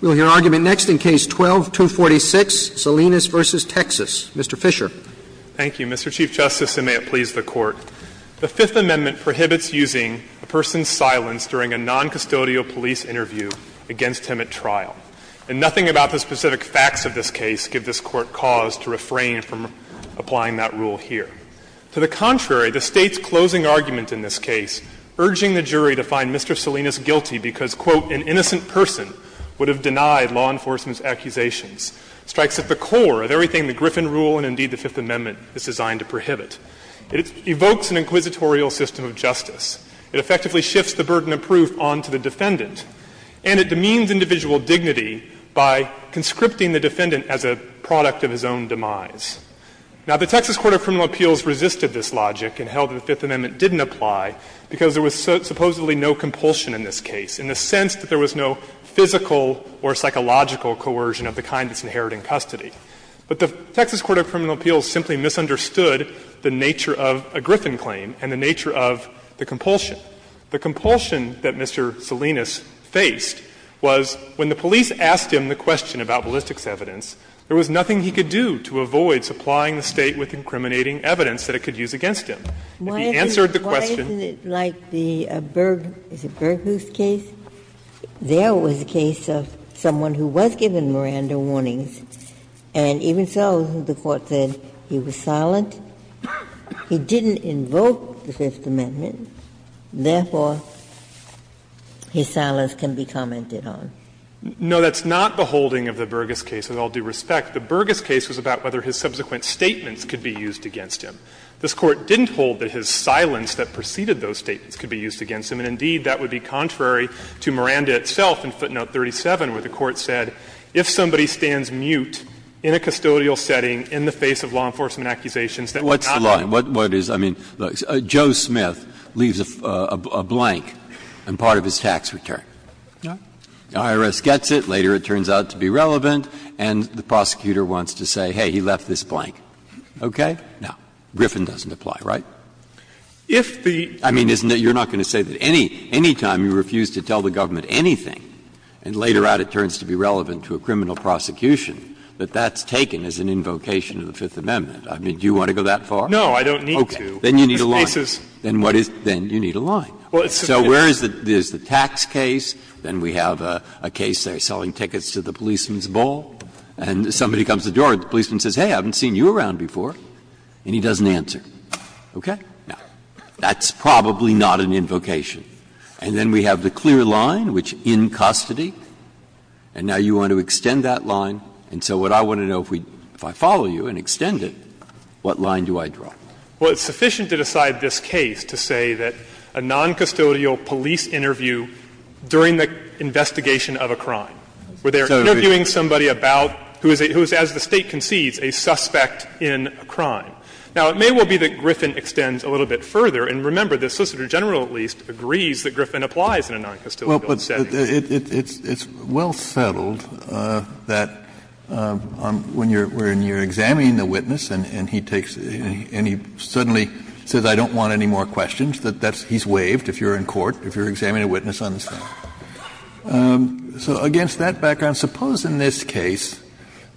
We'll hear argument next in Case 12-246, Salinas v. Texas. Mr. Fisher. Thank you, Mr. Chief Justice, and may it please the Court. The Fifth Amendment prohibits using a person's silence during a noncustodial police interview against him at trial, and nothing about the specific facts of this case give this Court cause to refrain from applying that rule here. To the contrary, the State's closing argument in this case, urging the jury to find Mr. Salinas guilty because, quote, an innocent person would have denied law enforcement's accusations, strikes at the core of everything the Griffin Rule and, indeed, the Fifth Amendment is designed to prohibit. It evokes an inquisitorial system of justice. It effectively shifts the burden of proof onto the defendant, and it demeans individual dignity by conscripting the defendant as a product of his own demise. Now, the Texas Court of Criminal Appeals resisted this logic and held that the Fifth Amendment didn't apply because there was supposedly no compulsion in this case, in the sense that there was no physical or psychological coercion of the kind that's inherent in custody. But the Texas Court of Criminal Appeals simply misunderstood the nature of a Griffin claim and the nature of the compulsion. The compulsion that Mr. Salinas faced was when the police asked him the question about ballistics evidence, there was nothing he could do to avoid supplying the State with incriminating evidence that it could use against him. If he answered the question why isn't it like the Berghoof case. There was a case of someone who was given Miranda warnings, and even so the Court said he was silent, he didn't invoke the Fifth Amendment, therefore his silence can be commented on. No, that's not the holding of the Burgess case, with all due respect. The Burgess case was about whether his subsequent statements could be used against him. This Court didn't hold that his silence that preceded those statements could be used against him, and indeed that would be contrary to Miranda itself in footnote 37, where the Court said if somebody stands mute in a custodial setting in the face of law enforcement accusations that were not the law. Breyer. What's the line? What is, I mean, Joe Smith leaves a blank and part of his tax return. IRS gets it, later it turns out to be relevant, and the prosecutor wants to say, hey, he left this blank. Okay? Now, Griffin doesn't apply, right? I mean, you're not going to say that any time you refuse to tell the government anything, and later out it turns to be relevant to a criminal prosecution, that that's taken as an invocation of the Fifth Amendment. I mean, do you want to go that far? No, I don't need to. Okay. Then you need a line. Then what is the basis? Then you need a line. So where is the tax case, then we have a case they're selling tickets to the policeman's ball, and somebody comes to the door, the policeman says, hey, I haven't seen you around before, and he doesn't answer. Okay? Now, that's probably not an invocation. And then we have the clear line, which in custody, and now you want to extend that line. And so what I want to know, if I follow you and extend it, what line do I draw? Well, it's sufficient to decide this case to say that a noncustodial police interview during the investigation of a crime, where they're interviewing somebody about, who is, as the State concedes, a suspect in a crime. Now, it may well be that Griffin extends a little bit further. And remember, the Solicitor General, at least, agrees that Griffin applies in a noncustodial setting. Kennedy, it's well settled that when you're examining the witness and he takes any questions, he suddenly says, I don't want any more questions, that that's he's waived if you're in court, if you're examining a witness on this thing. So against that background, suppose in this case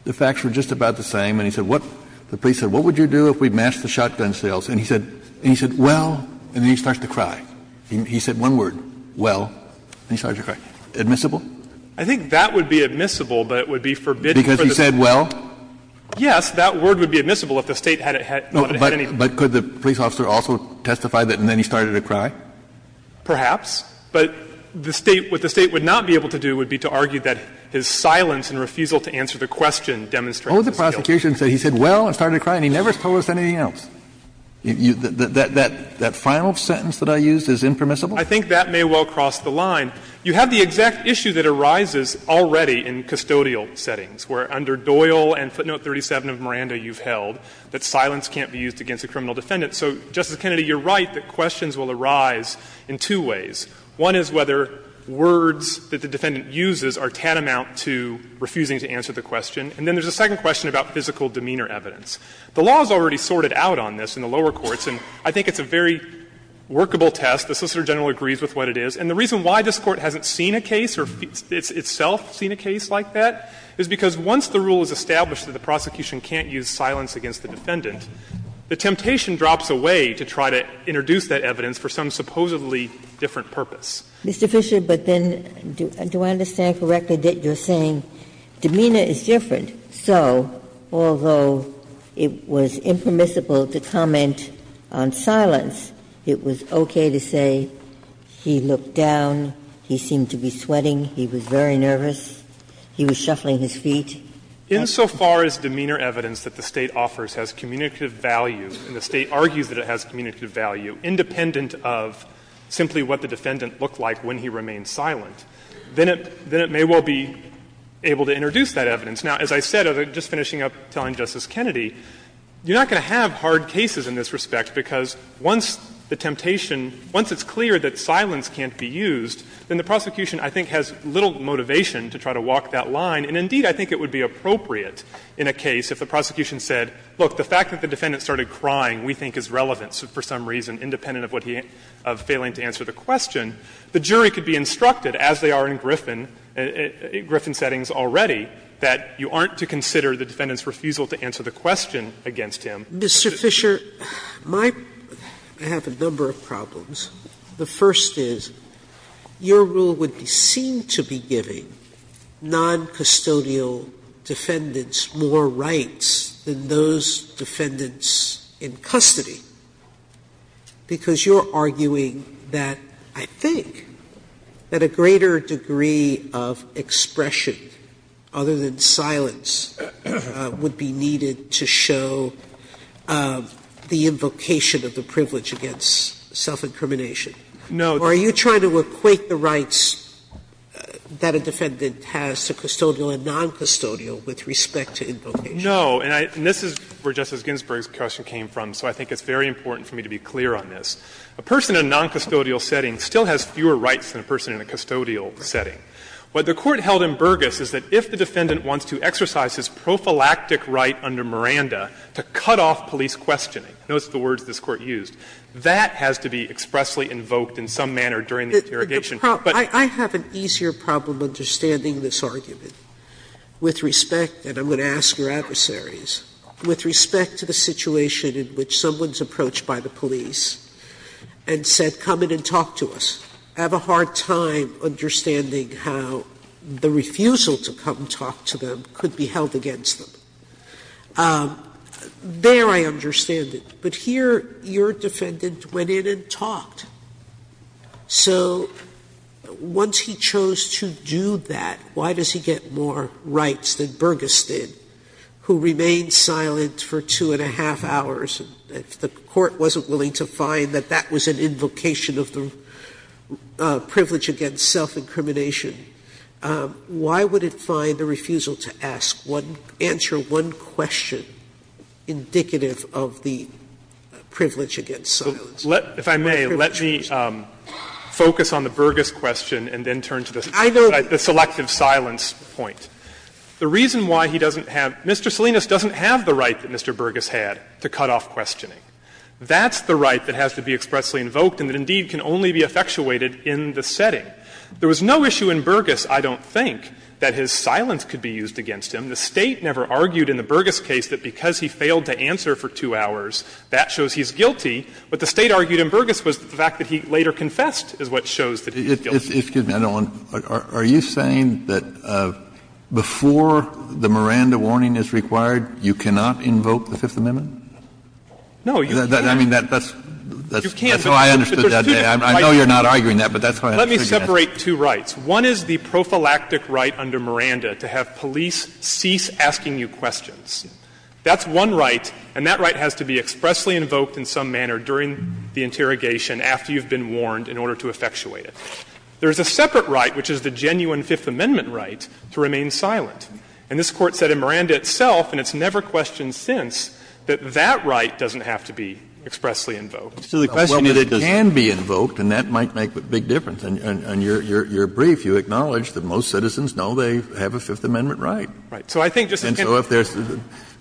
the facts were just about the same and he said what, the police said, what would you do if we matched the shotgun sales, and he said, well, and then he starts to cry. He said one word, well, and he starts to cry. Admissible? I think that would be admissible, but it would be forbidden for the State to do that. Because he said well? But could the police officer also testify that and then he started to cry? Perhaps. But the State, what the State would not be able to do would be to argue that his silence and refusal to answer the question demonstrates his guilt. What would the prosecution say? He said well and started to cry and he never told us anything else. That final sentence that I used is impermissible? I think that may well cross the line. You have the exact issue that arises already in custodial settings, where under Doyle and footnote 37 of Miranda you've held, that silence can't be used against a criminal defendant. So, Justice Kennedy, you're right that questions will arise in two ways. One is whether words that the defendant uses are tantamount to refusing to answer the question. And then there's a second question about physical demeanor evidence. The law is already sorted out on this in the lower courts, and I think it's a very workable test. The Solicitor General agrees with what it is. And the reason why this Court hasn't seen a case or itself seen a case like that is because once the rule is established that the prosecution can't use silence against the defendant, the temptation drops away to try to introduce that evidence for some supposedly different purpose. Ginsburg. Mr. Fisher, but then do I understand correctly that you're saying demeanor is different. So, although it was impermissible to comment on silence, it was okay to say he looked down, he seemed to be sweating, he was very nervous, he was shuffling his feet. Insofar as demeanor evidence that the State offers has communicative value, and the State argues that it has communicative value, independent of simply what the defendant looked like when he remained silent, then it may well be able to introduce that evidence. Now, as I said, just finishing up telling Justice Kennedy, you're not going to have hard cases in this respect, because once the temptation, once it's clear that silence can't be used, then the prosecution, I think, has little motivation to try to walk that line. And, indeed, I think it would be appropriate in a case if the prosecution said, look, the fact that the defendant started crying we think is relevant for some reason, independent of what he, of failing to answer the question, the jury could be instructed, as they are in Griffin, Griffin settings already, that you aren't to consider the defendant's refusal to answer the question against him. Sotomayor, Mr. Fisher, my, I have a number of problems. The first is, your rule would seem to be giving noncustodial defendants more rights than those defendants in custody, because you're arguing that, I think, that a greater degree of expression other than silence would be needed to show the invocation of the privilege against self-incrimination. Fisher, are you trying to equate the rights that a defendant has to custodial and noncustodial with respect to invocation? Fisher, No. And this is where Justice Ginsburg's question came from, so I think it's very important for me to be clear on this. A person in a noncustodial setting still has fewer rights than a person in a custodial setting. What the Court held in Burgess is that if the defendant wants to exercise his prophylactic right under Miranda to cut off police questioning, notice the words this Court used, that has to be expressly invoked in some manner during the interrogation. Sotomayor, I have an easier problem understanding this argument with respect to, and I'm going to ask your adversaries, with respect to the situation in which someone is approached by the police and said, come in and talk to us. I have a hard time understanding how the refusal to come talk to them could be held against them. There I understand it, but here your defendant went in and talked. So once he chose to do that, why does he get more rights than Burgess did, who remained silent for two and a half hours? If the Court wasn't willing to find that that was an invocation of the privilege against self-incrimination, why would it find the refusal to ask? Answer one question indicative of the privilege against silence. Fisherman, if I may, let me focus on the Burgess question and then turn to the selective silence point. The reason why he doesn't have Mr. Salinas doesn't have the right that Mr. Burgess had to cut off questioning. That's the right that has to be expressly invoked and that, indeed, can only be effectuated in the setting. There was no issue in Burgess, I don't think, that his silence could be used against him. The State never argued in the Burgess case that because he failed to answer for two hours, that shows he's guilty. What the State argued in Burgess was the fact that he later confessed is what shows that he's guilty. Kennedy, are you saying that before the Miranda warning is required, you cannot invoke the Fifth Amendment? Fisherman, I mean, that's how I understood it that day. I know you're not arguing that, but that's how I understood it. Fisherman, let me separate two rights. One is the prophylactic right under Miranda to have police cease asking you questions. That's one right, and that right has to be expressly invoked in some manner during the interrogation after you've been warned in order to effectuate it. There is a separate right, which is the genuine Fifth Amendment right, to remain silent. And this Court said in Miranda itself, and it's never questioned since, that that right doesn't have to be expressly invoked. Kennedy, it can be invoked, and that might make a big difference. And your brief, you acknowledge that most citizens know they have a Fifth Amendment right. Fisherman, so I think, Justice Kennedy. Kennedy, and so if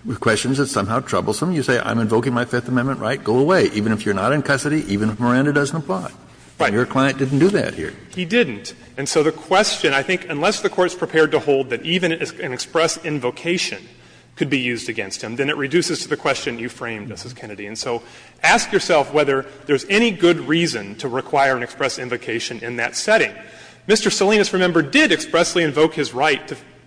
there's questions that are somehow troublesome, you say, I'm invoking my Fifth Amendment right, go away, even if you're not in custody, even if Miranda doesn't apply. Fisherman, right. Kennedy, and your client didn't do that here. Fisherman, he didn't. And so the question, I think, unless the Court's prepared to hold that even an express invocation could be used against him, then it reduces to the question you framed, Justice Kennedy. And so ask yourself whether there's any good reason to require an express invocation in that setting. Mr. Salinas, remember, did expressly invoke his right,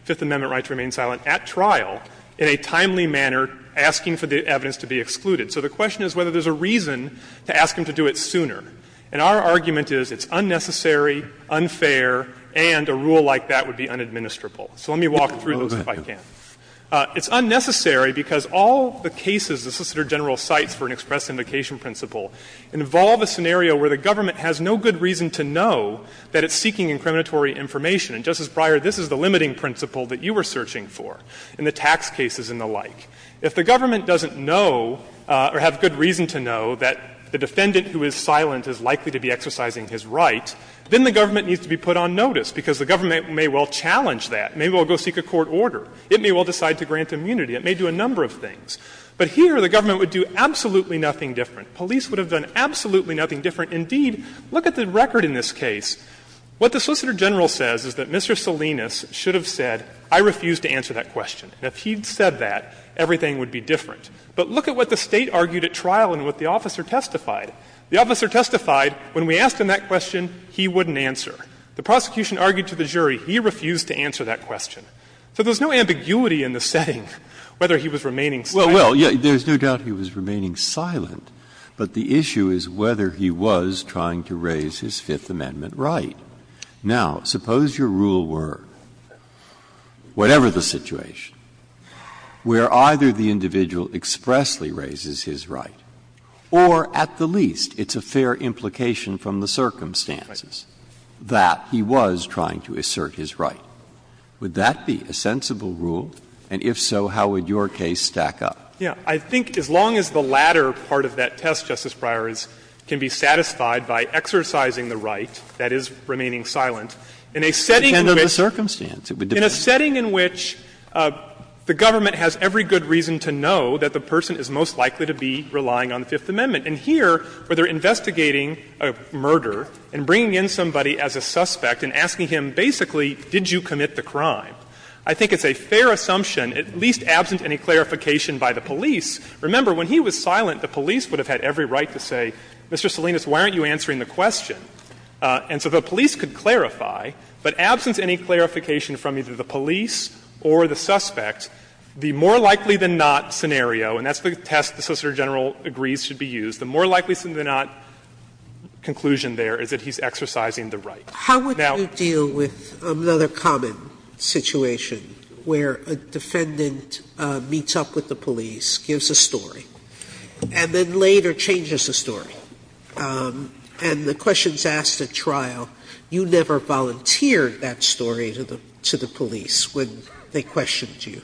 Fifth Amendment right to remain silent, at trial in a timely manner, asking for the evidence to be excluded. So the question is whether there's a reason to ask him to do it sooner. And our argument is it's unnecessary, unfair, and a rule like that would be unadministrable. So let me walk through those if I can. It's unnecessary because all the cases the Solicitor General cites for an express invocation principle involve a scenario where the government has no good reason to know that it's seeking incriminatory information. And, Justice Breyer, this is the limiting principle that you were searching for in the tax cases and the like. If the government doesn't know or have good reason to know that the defendant who is silent is likely to be exercising his right, then the government needs to be put on notice, because the government may well challenge that. Maybe it will go seek a court order. It may well decide to grant immunity. It may do a number of things. But here the government would do absolutely nothing different. Police would have done absolutely nothing different. Indeed, look at the record in this case. What the Solicitor General says is that Mr. Salinas should have said, I refuse to answer that question. And if he had said that, everything would be different. But look at what the State argued at trial and what the officer testified. The officer testified, when we asked him that question, he wouldn't answer. The prosecution argued to the jury, he refused to answer that question. So there's no ambiguity in the setting whether he was remaining silent. Well, there's no doubt he was remaining silent, but the issue is whether he was trying to raise his Fifth Amendment right. Now, suppose your rule were, whatever the situation, where either the individual expressly raises his right or, at the least, it's a fair implication from the circumstances, that he was trying to assert his right. Would that be a sensible rule, and if so, how would your case stack up? Yeah. I think as long as the latter part of that test, Justice Breyer, can be satisfied by exercising the right, that is, remaining silent, in a setting in which the government has every good reason to know that the person is most likely to be relying on the Fifth Amendment, and here, where they're investigating a murder and bringing in somebody as a suspect and asking him, basically, did you commit the crime, I think it's a fair assumption, at least absent any clarification by the police. Remember, when he was silent, the police would have had every right to say, Mr. Salinas, why aren't you answering the question? And so the police could clarify, but absent any clarification from either the police or the suspect, the more likely-than-not scenario, and that's the test the Solicitor General agrees should be used, the more likely-than-not conclusion there is that he's exercising the right. Sotomayor, how would you deal with another common situation where a defendant meets up with the police, gives a story, and then later changes the story, and the question is asked at trial, you never volunteered that story to the police when they questioned you?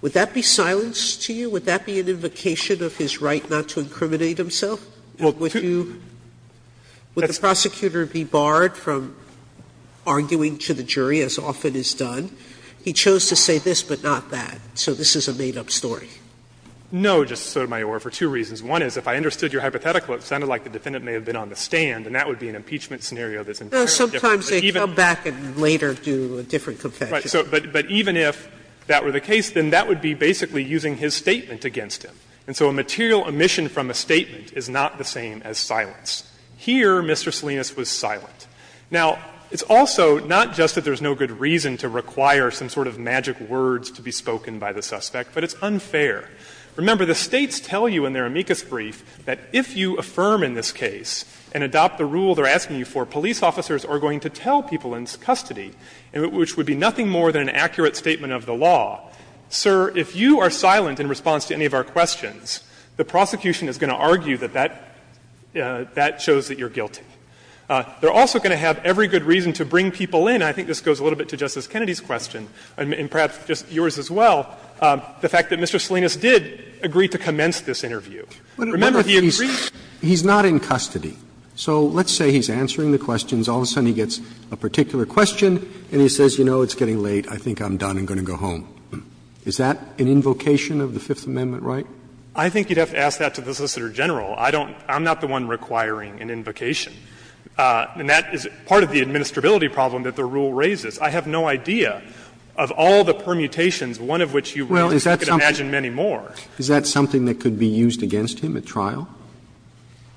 Would that be silence to you? Would that be an invocation of his right not to incriminate himself? Would you – would the prosecutor be barred from arguing to the jury, as often is done? He chose to say this, but not that, so this is a made-up story. Fisherman, No, Justice Sotomayor, for two reasons. One is, if I understood your hypothetical, it sounded like the defendant may have been on the stand, and that would be an impeachment scenario that's entirely different. Sotomayor, but even – Sotomayor, but sometimes they come back and later do a different confession. Fisherman, but even if that were the case, then that would be basically using his statement against him. And so a material omission from a statement is not the same as silence. Here, Mr. Salinas was silent. Now, it's also not just that there's no good reason to require some sort of magic words to be spoken by the suspect, but it's unfair. Remember, the States tell you in their amicus brief that if you affirm in this case and adopt the rule they're asking you for, police officers are going to tell people in custody, which would be nothing more than an accurate statement of the law. Sir, if you are silent in response to any of our questions, the prosecution is going to argue that that shows that you're guilty. They're also going to have every good reason to bring people in, and I think this goes a little bit to Justice Kennedy's question, and perhaps just yours as well, the fact that Mr. Salinas did agree to commence this interview. Remember, the agreement to bring people in is that he's not in custody. So let's say he's answering the questions, all of a sudden he gets a particular question and he says, you know, it's getting late, I think I'm done, I'm going to go home. Is that an invocation of the Fifth Amendment right? Fisherman, I think you'd have to ask that to the Solicitor General. I don't – I'm not the one requiring an invocation. And that is part of the administrability problem that the rule raises. I have no idea of all the permutations, one of which you can imagine many more. Roberts, is that something that could be used against him at trial?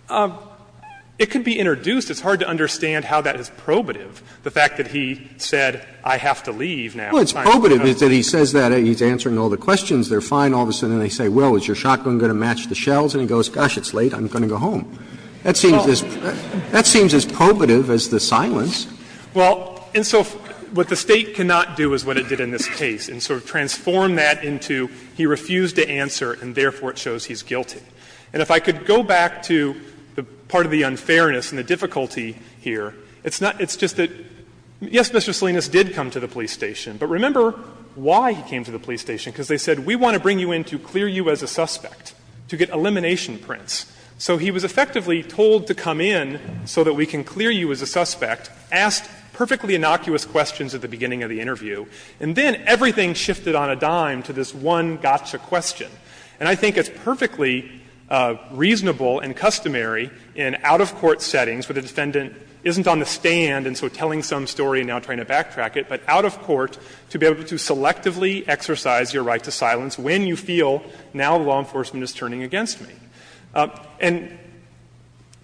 Fisherman, it could be introduced. It's hard to understand how that is probative, the fact that he said, I have to leave now. Roberts, it's probative that he says that, he's answering all the questions, they're fine, all of a sudden they say, well, is your shotgun going to match the shells? And he goes, gosh, it's late, I'm going to go home. That seems as probative as the silence. Well, and so what the State cannot do is what it did in this case, and sort of transform that into he refused to answer and therefore it shows he's guilty. And if I could go back to the part of the unfairness and the difficulty here, it's not, it's just that, yes, Mr. Salinas did come to the police station, but remember why he came to the police station? Because they said, we want to bring you in to clear you as a suspect, to get elimination prints. So he was effectively told to come in so that we can clear you as a suspect, asked perfectly innocuous questions at the beginning of the interview, and then everything shifted on a dime to this one gotcha question. And I think it's perfectly reasonable and customary in out-of-court settings where the defendant isn't on the stand and so telling some story and now trying to backtrack it, but out-of-court to be able to selectively exercise your right to silence when you feel, now law enforcement is turning against me. And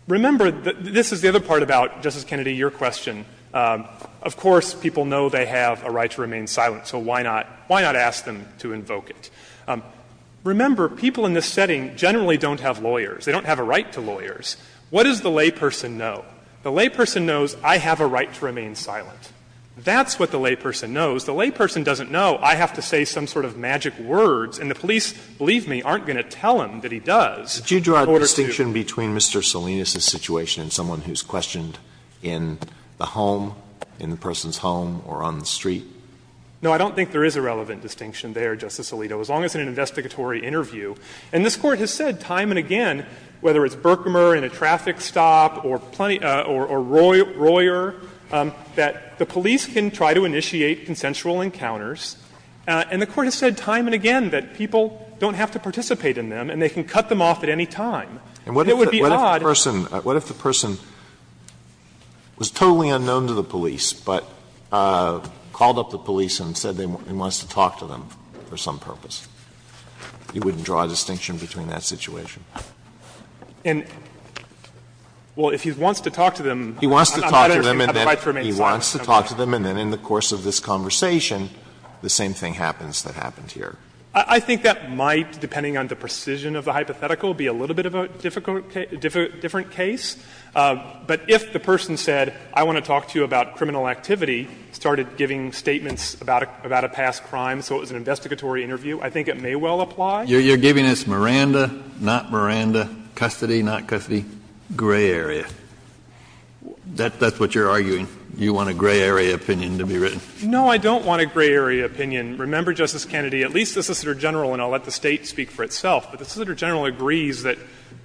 remember, this is the other part about, Justice Kennedy, your question. Of course, people know they have a right to remain silent, so why not, why not ask them to invoke it? Remember, people in this setting generally don't have lawyers. They don't have a right to lawyers. What does the layperson know? The layperson knows I have a right to remain silent. That's what the layperson knows. The layperson doesn't know I have to say some sort of magic words, and the police, believe me, aren't going to tell him that he does. Alito, did you draw a distinction between Mr. Salinas' situation and someone who's questioned in the home, in the person's home, or on the street? No, I don't think there is a relevant distinction there, Justice Alito, as long as it's an investigatory interview. And this Court has said time and again, whether it's Berkmer in a traffic stop or Royer, that the police can try to initiate consensual encounters. And the Court has said time and again that people don't have to participate in them and they can cut them off at any time. And it would be odd. Alito, what if the person was totally unknown to the police, but called up the police and said he wants to talk to them for some purpose? You wouldn't draw a distinction between that situation? And, well, if he wants to talk to them, I'm not interested. I would fight for a man's life. He wants to talk to them, and then in the course of this conversation, the same thing happens that happened here. I think that might, depending on the precision of the hypothetical, be a little bit of a difficult case, different case. But if the person said, I want to talk to you about criminal activity, started giving statements about a past crime, so it was an investigatory interview, I think it may well apply. You're giving us Miranda, not Miranda, custody, not custody, gray area. That's what you're arguing? You want a gray area opinion to be written? No, I don't want a gray area opinion. Remember, Justice Kennedy, at least the Assistant Attorney General, and I'll let the State speak for itself, but the Assistant Attorney General agrees that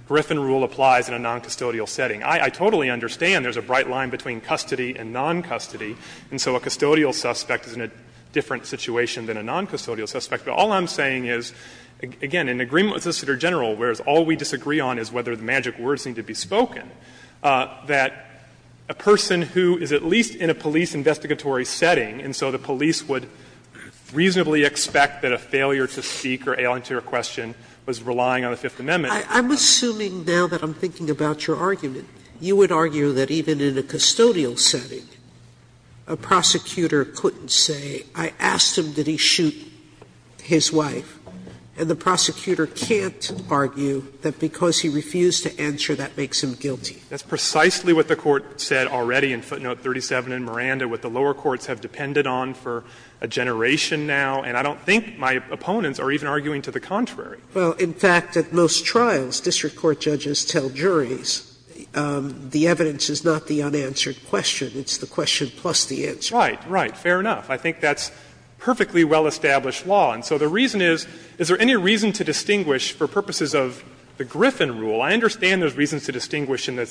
Griffin rule applies in a noncustodial setting. I totally understand there's a bright line between custody and noncustody, and so a custodial suspect is in a different situation than a noncustodial suspect. But all I'm saying is, again, in agreement with the Assistant Attorney General, whereas all we disagree on is whether the magic words need to be spoken, that a person who is at least in a police investigatory setting, and so the police would reasonably expect that a failure to speak or answer a question was relying on the Fifth Amendment. Sotomayor, I'm assuming now that I'm thinking about your argument, you would argue that even in a custodial setting, a prosecutor couldn't say, I asked him, did he shoot his wife, and the prosecutor can't argue that because he refused to answer, that makes him guilty. That's precisely what the Court said already in footnote 37 in Miranda, what the lower courts have depended on for a generation now, and I don't think my opponents are even arguing to the contrary. Well, in fact, at most trials, district court judges tell juries, the evidence is not the unanswered question, it's the question plus the answer. Right, right, fair enough. I think that's perfectly well-established law. And so the reason is, is there any reason to distinguish, for purposes of the Griffin rule, I understand there's reasons to distinguish in the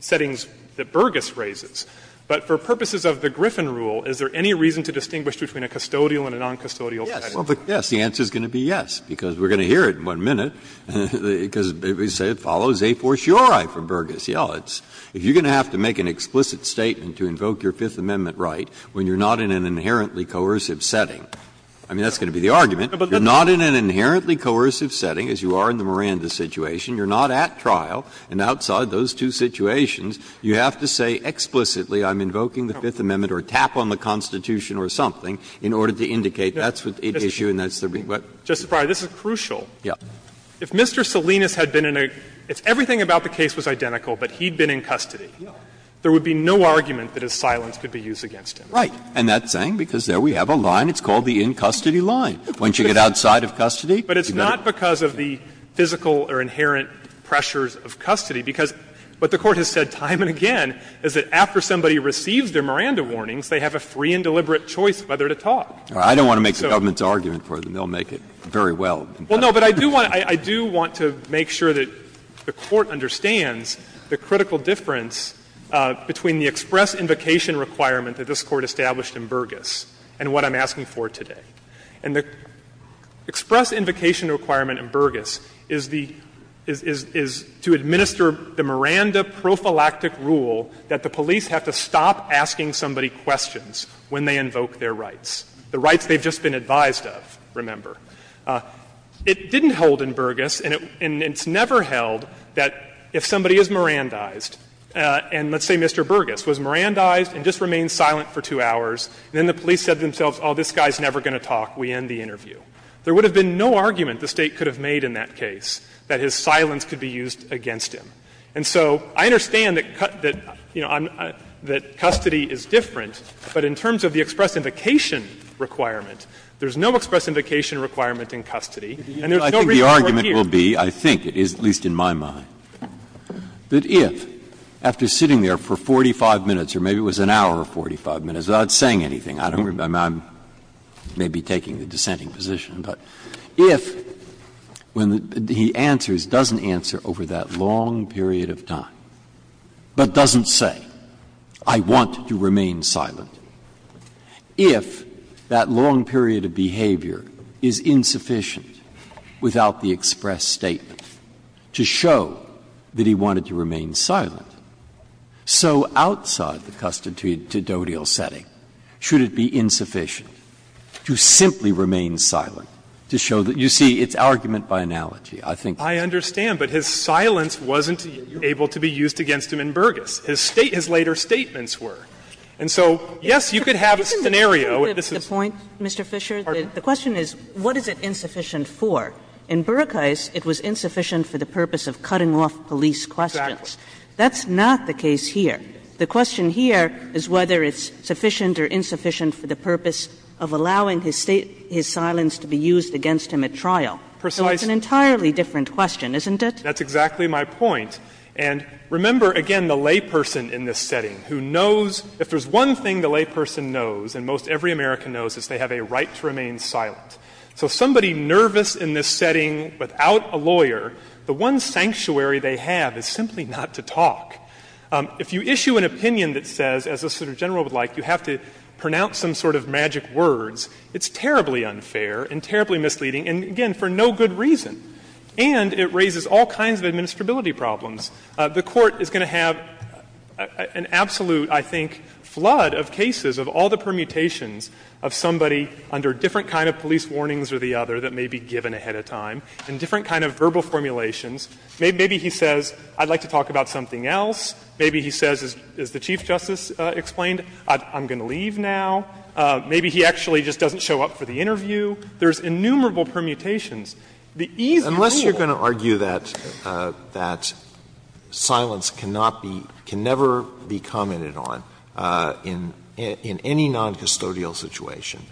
settings that Burgess raises, but for purposes of the Griffin rule, is there any reason to distinguish between a custodial and a noncustodial setting? Yes, the answer is going to be yes, because we're going to hear it in one minute, because it follows a fortiori from Burgess. You know, if you're going to have to make an explicit statement to invoke your Fifth Amendment right when you're not in an inherently coercive setting, I mean, that's going to be the argument. You're not in an inherently coercive setting, as you are in the Miranda situation. You're not at trial, and outside those two situations, you have to say explicitly I'm invoking the Fifth Amendment or tap on the Constitution or something in order to indicate that's the issue and that's the reason why. Justice Breyer, this is crucial. Yes. If Mr. Salinas had been in a – if everything about the case was identical, but he'd been in custody, there would be no argument that his silence could be used. Right. And that's saying, because there we have a line, it's called the in-custody line. Once you get outside of custody, you've got to do it. But it's not because of the physical or inherent pressures of custody, because what the Court has said time and again is that after somebody receives their Miranda warnings, they have a free and deliberate choice whether to talk. I don't want to make the government's argument for them. They'll make it very well. Well, no, but I do want to make sure that the Court understands the critical difference between the express invocation requirement that this Court established in Burgess and what I'm asking for today. And the express invocation requirement in Burgess is the – is to administer the Miranda prophylactic rule that the police have to stop asking somebody questions when they invoke their rights, the rights they've just been advised of, remember. It didn't hold in Burgess, and it's never held that if somebody is Mirandized and let's say Mr. Burgess was Mirandized and just remained silent for two hours, then the police said to themselves, oh, this guy's never going to talk, we end the interview. There would have been no argument the State could have made in that case that his silence could be used against him. And so I understand that, you know, that custody is different, but in terms of the express invocation requirement, there's no express invocation requirement in custody, and there's no reason to work here. Breyer, I think it is, at least in my mind, that if, after sitting there for 45 minutes or maybe it was an hour or 45 minutes, without saying anything, I don't remember, I'm maybe taking the dissenting position, but if when he answers, doesn't answer over that long period of time, but doesn't say, I want to remain silent, if that long period of behavior is insufficient without the express statement of the State to show that he wanted to remain silent, so outside the custodial setting, should it be insufficient to simply remain silent to show that, you see, it's argument by analogy, I think. Fisher, I understand, but his silence wasn't able to be used against him in Burgess. His later statements were. And so, yes, you could have a scenario. Kagan. Kagan. Kagan. Kagan. Kagan. Kagan. Kagan. Kagan. Kagan. Kagan. Kagan. Kagan. Kagan. Kagan. Obviously, in Burgess's case, it was insufficient for the purpose of cutting off police questions. Fisher, that's not the case here. The question here is whether it's sufficient or insufficient for the purpose of allowing his silence to be used against him at trial. So it's an entirely different question, isn't it? Fisher, that's exactly my point. And, remember, again, the layperson in this setting who knows — if there's one thing the layperson knows, and most every American knows, is they have a right to remain silent. So somebody nervous in this setting without a lawyer, the one sanctuary they have is simply not to talk. If you issue an opinion that says, as the Senator General would like, you have to pronounce some sort of magic words, it's terribly unfair and terribly misleading, and, again, for no good reason. And it raises all kinds of administrability problems. The Court is going to have an absolute, I think, flood of cases of all the permutations of somebody under different kind of police warnings or the other that may be given ahead of time, and different kind of verbal formulations. Maybe he says, I'd like to talk about something else. Maybe he says, as the Chief Justice explained, I'm going to leave now. Maybe he actually just doesn't show up for the interview. There's innumerable permutations. The easy rule— Silence cannot be, can never be commented on in any noncustodial situation.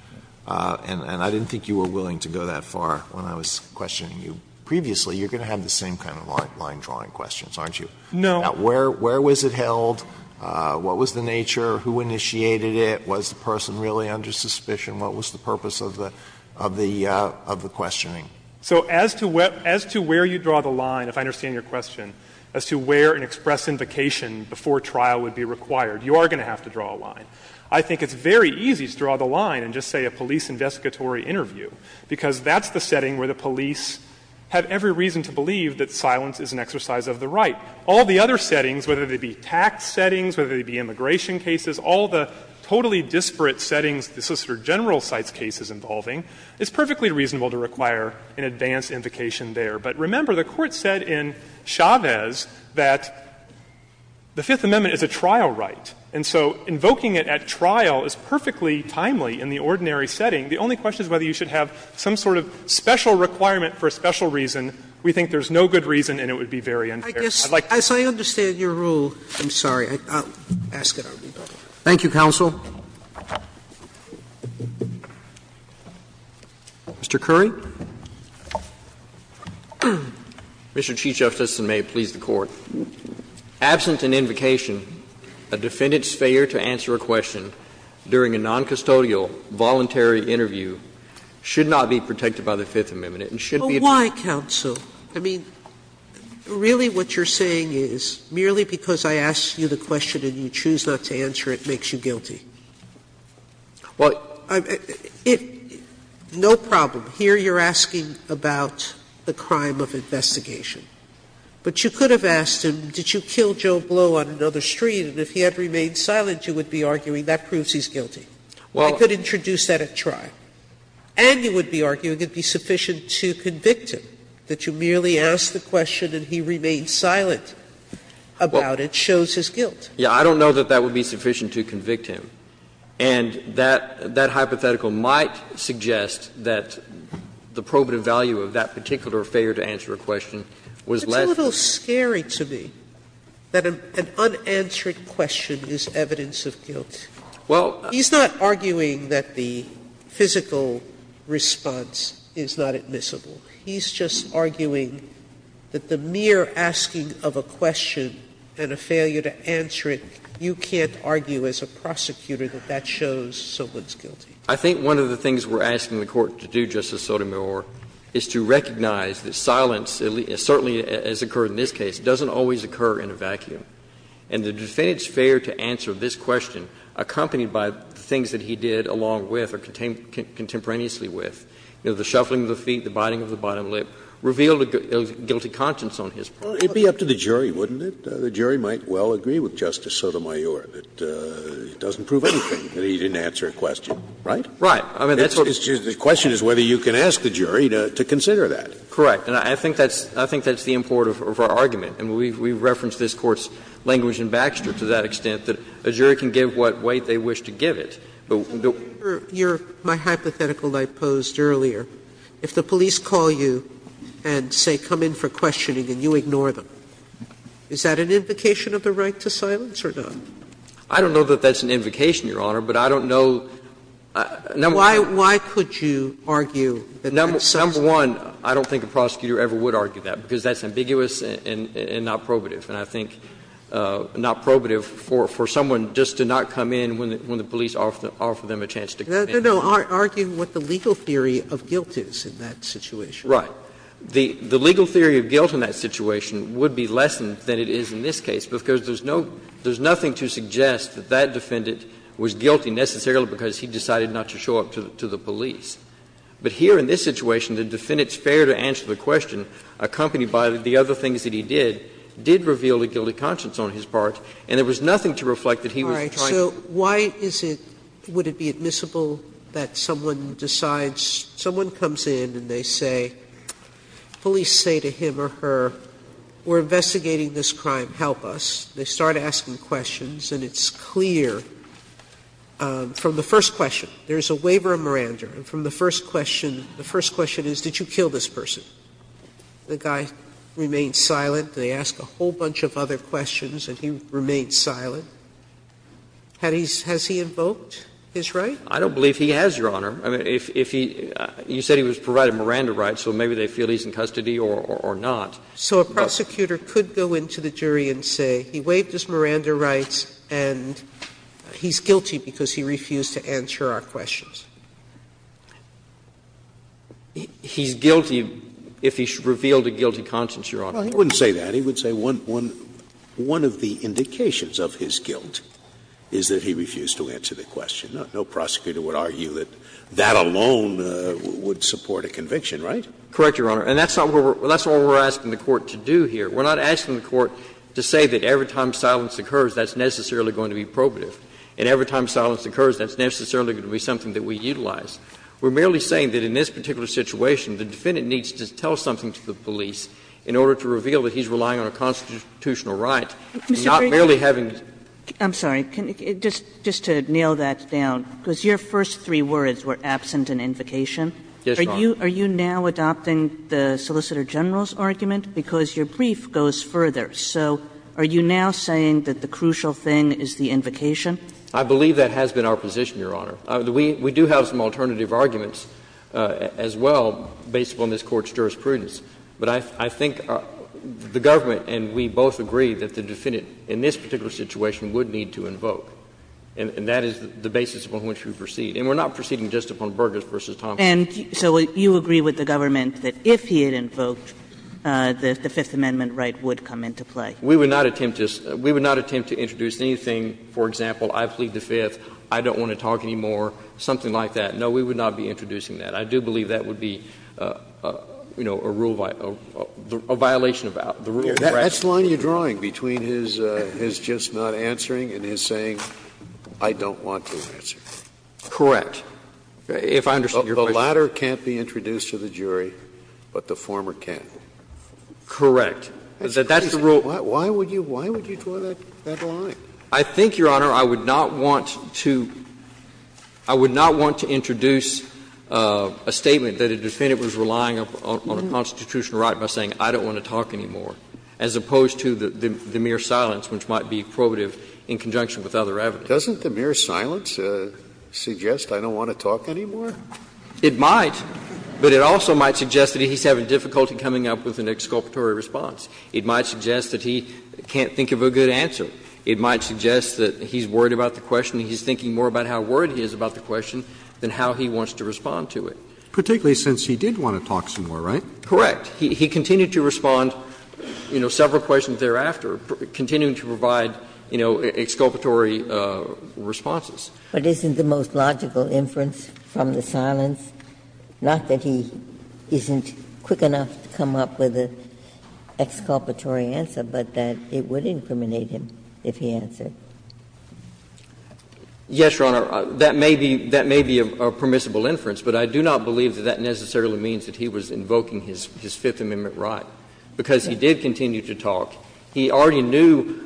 And I didn't think you were willing to go that far when I was questioning you previously. You're going to have the same kind of line-drawing questions, aren't you? No. Where was it held? What was the nature? Who initiated it? Was the person really under suspicion? What was the purpose of the questioning? So as to where you draw the line, if I understand your question, as to where an express invocation before trial would be required, you are going to have to draw a line. I think it's very easy to draw the line and just say a police investigatory interview, because that's the setting where the police have every reason to believe that silence is an exercise of the right. All the other settings, whether they be tax settings, whether they be immigration cases, all the totally disparate settings the Solicitor General cites cases involving, it's perfectly reasonable to require an advanced invocation there. But remember, the Court said in Chavez that the Fifth Amendment is a trial right. And so invoking it at trial is perfectly timely in the ordinary setting. The only question is whether you should have some sort of special requirement for a special reason. We think there's no good reason and it would be very unfair. I'd like to say. I understand your rule. I'm sorry. I'll ask it. Thank you, counsel. Mr. Curry. Mr. Chief Justice, and may it please the Court. Absent an invocation, a defendant's failure to answer a question during a noncustodial voluntary interview should not be protected by the Fifth Amendment and should be a defense. Sotomayor, I mean, really what you're saying is merely because I ask you the question and you choose not to answer it makes you guilty. Well, I'm no problem. Here you're asking about the crime of investigation. But you could have asked him, did you kill Joe Blow on another street, and if he had remained silent, you would be arguing that proves he's guilty. Well, I could introduce that at trial. And you would be arguing it would be sufficient to convict him, that you merely asked the question and he remained silent about it shows his guilt. Yeah. I don't know that that would be sufficient to convict him. And that hypothetical might suggest that the probative value of that particular failure to answer a question was less than that. It's a little scary to me that an unanswered question is evidence of guilt. Well, I'm not arguing that the physical response is not admissible. He's just arguing that the mere asking of a question and a failure to answer it, you can't argue as a prosecutor that that shows someone's guilty. I think one of the things we're asking the Court to do, Justice Sotomayor, is to recognize that silence, certainly as occurred in this case, doesn't always occur in a vacuum. And the defendant's failure to answer this question, accompanied by the things that he did along with or contemporaneously with, you know, the shuffling of the feet, the biting of the bottom lip, revealed a guilty conscience on his part. It'd be up to the jury, wouldn't it? The jury might well agree with Justice Sotomayor that it doesn't prove anything that he didn't answer a question, right? Right. I mean, that's what the question is whether you can ask the jury to consider that. Correct. And I think that's the import of our argument. And we reference this Court's language in Baxter to that extent, that a jury can give what weight they wish to give it. Sotomayor, my hypothetical that I posed earlier, if the police call you and say come in for questioning and you ignore them, is that an invocation of the right to silence or not? I don't know that that's an invocation, Your Honor, but I don't know. Why could you argue that that's silencing? Number one, I don't think a prosecutor ever would argue that, because that's ambiguous and not probative, and I think not probative for someone just to not come in when the police offer them a chance to come in. No, no. Argue what the legal theory of guilt is in that situation. Right. The legal theory of guilt in that situation would be lessened than it is in this case, because there's no – there's nothing to suggest that that defendant was guilty necessarily because he decided not to show up to the police. But here in this situation, the defendant's fair to answer the question, accompanied by the other things that he did, did reveal a guilty conscience on his part, and there was nothing to reflect that he was trying to do. So why is it – would it be admissible that someone decides – someone comes in and they say – police say to him or her, we're investigating this crime, help us. They start asking questions, and it's clear from the first question. There's a waiver of Miranda, and from the first question – the first question is, did you kill this person? The guy remained silent. They ask a whole bunch of other questions, and he remained silent. Has he invoked his right? I don't believe he has, Your Honor. I mean, if he – you said he was provided Miranda rights, so maybe they feel he's in custody or not. So a prosecutor could go into the jury and say he waived his Miranda rights and he's guilty because he refused to answer our questions. He's guilty if he revealed a guilty conscience, Your Honor. Well, he wouldn't say that. He would say one – one of the indications of his guilt is that he refused to answer the question. No prosecutor would argue that that alone would support a conviction, right? Correct, Your Honor. And that's not what we're – that's what we're asking the Court to do here. We're not asking the Court to say that every time silence occurs, that's necessarily going to be probative, and every time silence occurs, that's necessarily going to be something that we utilize. We're merely saying that in this particular situation, the defendant needs to tell something to the police in order to reveal that he's relying on a constitutional right and not merely having to do that. I'm sorry. Just to nail that down, because your first three words were absent in invocation. Yes, Your Honor. Are you now adopting the Solicitor General's argument? Because your brief goes further. So are you now saying that the crucial thing is the invocation? I believe that has been our position, Your Honor. We do have some alternative arguments as well based upon this Court's jurisprudence. But I think the government and we both agree that the defendant in this particular situation would need to invoke, and that is the basis upon which we proceed. And we're not proceeding just upon Burgess v. Thompson. And so you agree with the government that if he had invoked, the Fifth Amendment right would come into play? We would not attempt to – we would not attempt to introduce anything, for example, I plead the Fifth, I don't want to talk anymore, something like that. No, we would not be introducing that. I do believe that would be, you know, a rule violation, a violation of the rule. That's the line you're drawing between his just not answering and his saying, I don't want to answer. Correct. If I understand your question. The latter can't be introduced to the jury, but the former can. Correct. That's the rule. Why would you draw that line? I think, Your Honor, I would not want to – I would not want to introduce a statement that a defendant was relying on a constitutional right by saying, I don't want to talk anymore, as opposed to the mere silence, which might be probative in conjunction with other evidence. Doesn't the mere silence suggest I don't want to talk anymore? It might, but it also might suggest that he's having difficulty coming up with an exculpatory response. It might suggest that he can't think of a good answer. It might suggest that he's worried about the question, and he's thinking more about how worried he is about the question than how he wants to respond to it. Particularly since he did want to talk some more, right? Correct. He continued to respond, you know, several questions thereafter, continuing to provide, you know, exculpatory responses. But isn't the most logical inference from the silence not that he isn't quick enough to come up with an exculpatory answer, but that it would incriminate him if he answered? Yes, Your Honor. That may be – that may be a permissible inference, but I do not believe that that necessarily means that he was invoking his Fifth Amendment right, because he did continue to talk. He already knew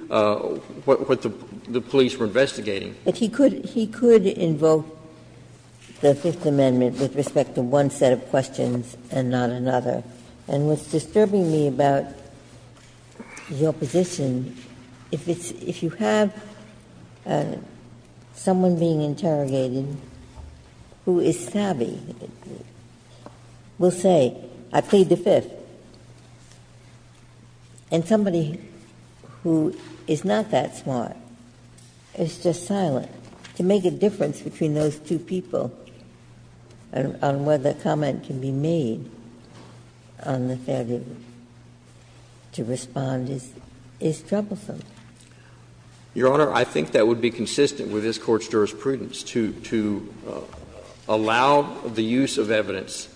what the police were investigating. But he could – he could invoke the Fifth Amendment with respect to one set of questions and not another. And what's disturbing me about your position, if it's – if you have someone being interrogated who is savvy, will say, I plead the Fifth, and somebody who is not that smart is just silent, to make a difference between those two people on whether a comment can be made on the Fifth Amendment to respond is – is troublesome. Your Honor, I think that would be consistent with this Court's jurisprudence to – to allow the use of evidence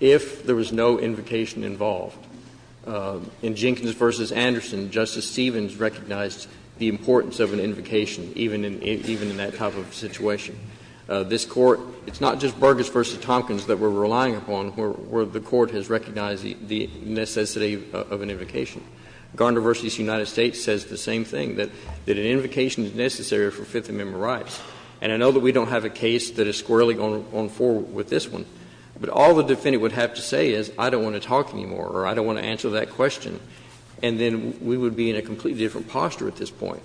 if there was no invocation involved. In Jenkins v. Anderson, Justice Stevens recognized the importance of an invocation, even in – even in that type of situation. This Court – it's not just Burgess v. Tompkins that we're relying upon where the Court has recognized the necessity of an invocation. Gardner v. United States says the same thing, that an invocation is necessary for Fifth Amendment rights. And I know that we don't have a case that is squarely going forward with this one, but all the defendant would have to say is, I don't want to talk anymore or I don't want to answer that question, and then we would be in a completely different posture at this point.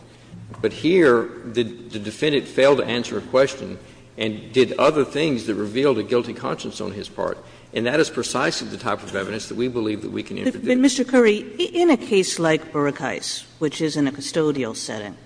But here, the defendant failed to answer a question and did other things that revealed a guilty conscience on his part, and that is precisely the type of evidence that we believe that we can interdict. Kagan in a case like Burkheist, which is in a custodial setting,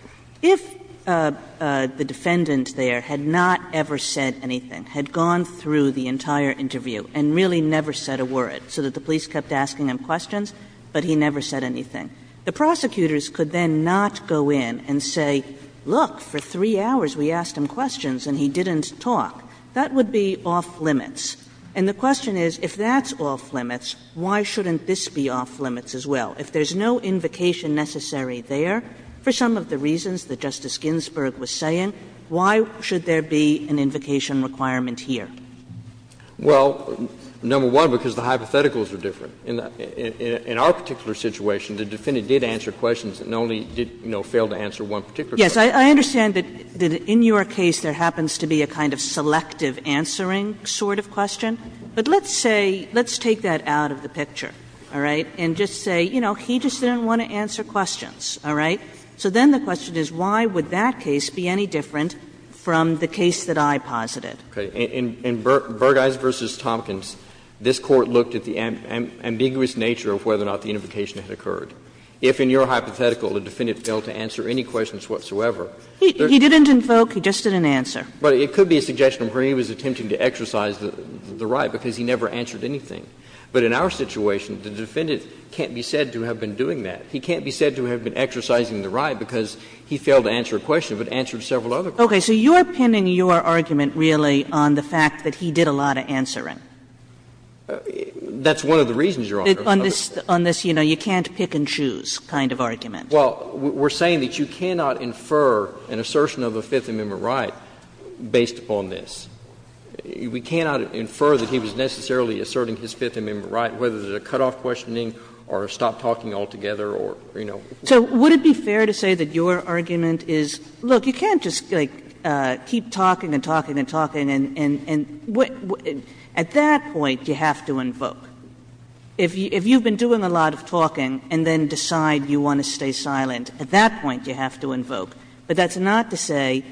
if the defendant there had not ever said anything, had gone through the entire interview and really never said a word, so that the police kept asking him questions, but he never said anything, the prosecutors could then not go in and say, look, for 3 hours we asked him questions and he didn't talk. That would be off limits. And the question is, if that's off limits, why shouldn't this be off limits as well? If there's no invocation necessary there, for some of the reasons that Justice Ginsburg was saying, why should there be an invocation requirement here? Well, number one, because the hypotheticals are different. In our particular situation, the defendant did answer questions and only did, you know, fail to answer one particular question. Kagan in your case there happens to be a kind of selective answering sort of question, but let's say, let's take that out of the picture, all right, and just say, you know, he just didn't want to answer questions, all right? So then the question is, why would that case be any different from the case that I posited? Okay. In Burgeis v. Tompkins, this Court looked at the ambiguous nature of whether or not the invocation had occurred. If in your hypothetical the defendant failed to answer any questions whatsoever there's no question. He didn't invoke, he just didn't answer. But it could be a suggestion where he was attempting to exercise the right because he never answered anything. But in our situation, the defendant can't be said to have been doing that. He can't be said to have been exercising the right because he failed to answer a question but answered several other questions. but let's say, let's take that out of the picture, all right? So then the question is, why would that case be any different from the case that I posited? Okay. So you're pinning your argument, really, on the fact that he did a lot of answering. That's one of the reasons, Your Honor. On this, on this, you know, you can't pick and choose kind of argument. Well, we're saying that you cannot infer an assertion of a Fifth Amendment right based upon this. We cannot infer that he was necessarily asserting his Fifth Amendment right, whether it's a cutoff questioning or a stop talking altogether or, you know. So would it be fair to say that your argument is, look, you can't just, like, keep talking and talking and talking and at that point you have to invoke. If you've been doing a lot of talking and then decide you want to stay silent, at that point you have to invoke. But that's not to say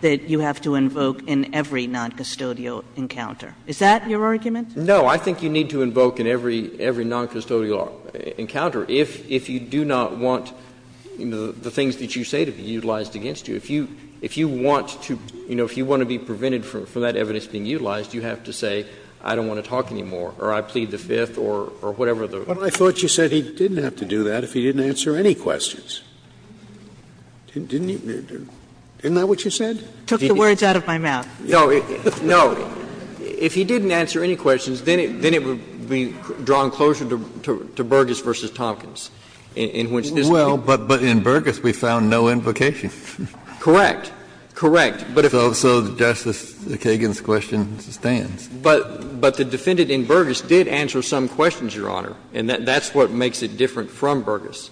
that you have to invoke in every noncustodial encounter. Is that your argument? No. I think you need to invoke in every noncustodial encounter if you do not want, you know, the things that you say to be utilized against you. If you want to, you know, if you want to be prevented from that evidence being utilized, you have to say, I don't want to talk anymore, or I plead the Fifth or whatever the other. But I thought you said he didn't have to do that if he didn't answer any questions. Didn't you? Isn't that what you said? I took the words out of my mouth. No. No. If he didn't answer any questions, then it would be drawn closer to Burgess v. Tompkins. In which this case. Well, but in Burgess we found no invocation. Correct. Correct. But if. So Justice Kagan's question stands. But the defendant in Burgess did answer some questions, Your Honor, and that's what makes it different from Burgess,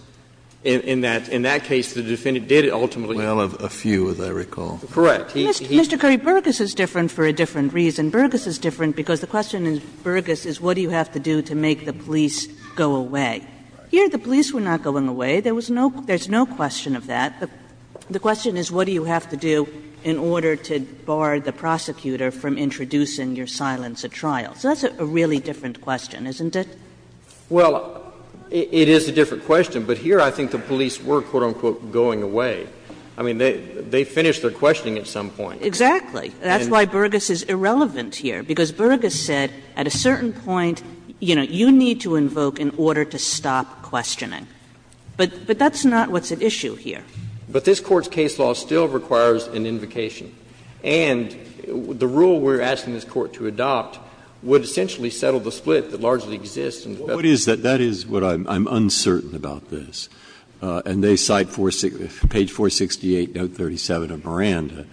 in that, in that case, the defendant did ultimately. Well, a few, as I recall. Correct. Mr. Curry, Burgess is different for a different reason. Burgess is different because the question in Burgess is what do you have to do to make the police go away. Here the police were not going away. There was no question of that. The question is what do you have to do in order to bar the prosecutor from introducing your silence at trial. So that's a really different question, isn't it? Well, it is a different question, but here I think the police were, quote, unquote, going away. I mean, they finished their questioning at some point. Exactly. That's why Burgess is irrelevant here, because Burgess said at a certain point, you know, you need to invoke in order to stop questioning. But that's not what's at issue here. But this Court's case law still requires an invocation. And the rule we're asking this Court to adopt would essentially settle the split that largely exists in the Bethlehem case law. Breyer, that is what I'm uncertain about this. And they cite page 468, note 37 of Miranda.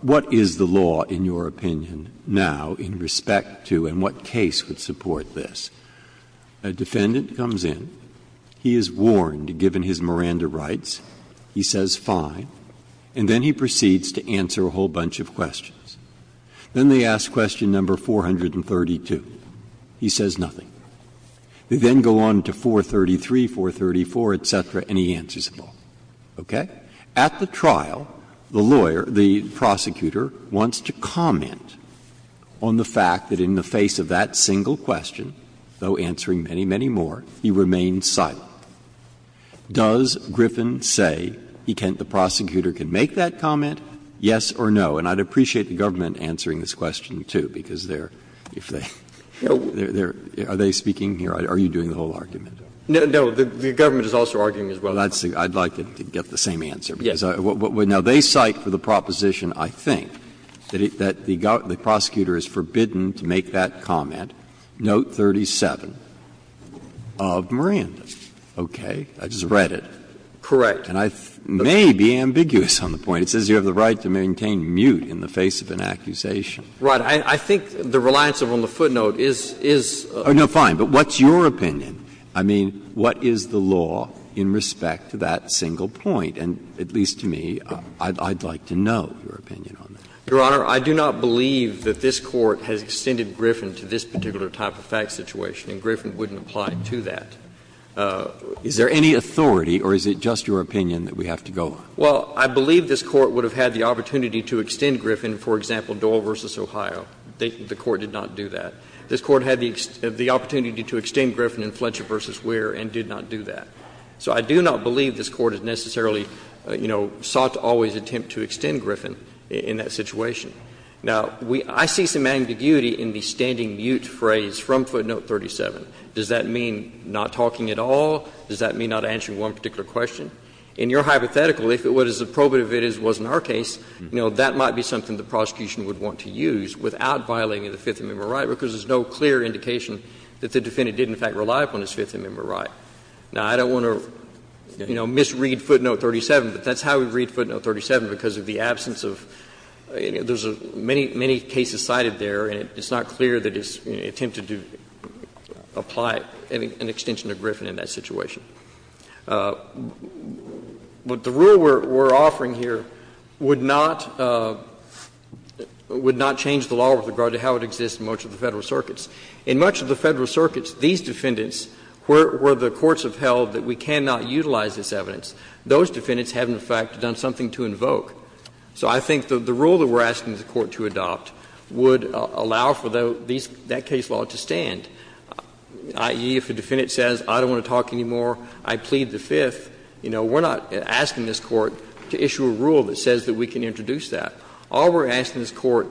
What is the law in your opinion now in respect to and what case would support this? A defendant comes in, he is warned, given his Miranda rights, he says fine, and then he proceeds to answer a whole bunch of questions. Then they ask question number 432. He says nothing. They then go on to 433, 434, et cetera, and he answers them all. Okay? At the trial, the lawyer, the prosecutor, wants to comment on the fact that in the face of that single question, though answering many, many more, he remains silent. Does Griffin say he can't — the prosecutor can make that comment, yes or no? And I'd appreciate the government answering this question, too, because they're — if they're — they're — are they speaking here? Are you doing the whole argument? No, the government is also arguing as well. Well, that's the — I'd like to get the same answer. Yes. Because what — now, they cite for the proposition, I think, that it — that the prosecutor is forbidden to make that comment, note 37 of Miranda. Okay? I just read it. Correct. And I may be ambiguous on the point. It says you have the right to maintain mute in the face of an accusation. Right. I think the reliance on the footnote is — is — Oh, no, fine. But what's your opinion? I mean, what is the law in respect to that single point? And at least to me, I'd like to know your opinion on that. Your Honor, I do not believe that this Court has extended Griffin to this particular type of fact situation, and Griffin wouldn't apply to that. Is there any authority, or is it just your opinion that we have to go on? Well, I believe this Court would have had the opportunity to extend Griffin, for example, Doyle v. Ohio. The Court did not do that. This Court had the opportunity to extend Griffin in Fletcher v. Weir and did not do that. So I do not believe this Court has necessarily, you know, sought to always attempt to extend Griffin in that situation. Now, we — I see some ambiguity in the standing mute phrase from footnote 37. Does that mean not talking at all? Does that mean not answering one particular question? In your hypothetical, if what is approbative is it wasn't our case, you know, that might be something the prosecution would want to use without violating the Fifth Amendment right, because there's no clear indication that the defendant didn't in fact rely upon his Fifth Amendment right. Now, I don't want to, you know, misread footnote 37, but that's how we read footnote 37, because of the absence of — there's many, many cases cited there, and it's not clear that it's attempted to apply an extension to Griffin in that situation. What the rule we're offering here would not — would not change the law with regard to how it exists in much of the Federal circuits. In much of the Federal circuits, these defendants were the courts have held that we cannot utilize this evidence. Those defendants have, in fact, done something to invoke. So I think the rule that we're asking the Court to adopt would allow for that case law to stand, i.e., if a defendant says, I don't want to talk anymore, I plead the Fifth, you know, we're not asking this Court to issue a rule that says that we can introduce that. All we're asking this Court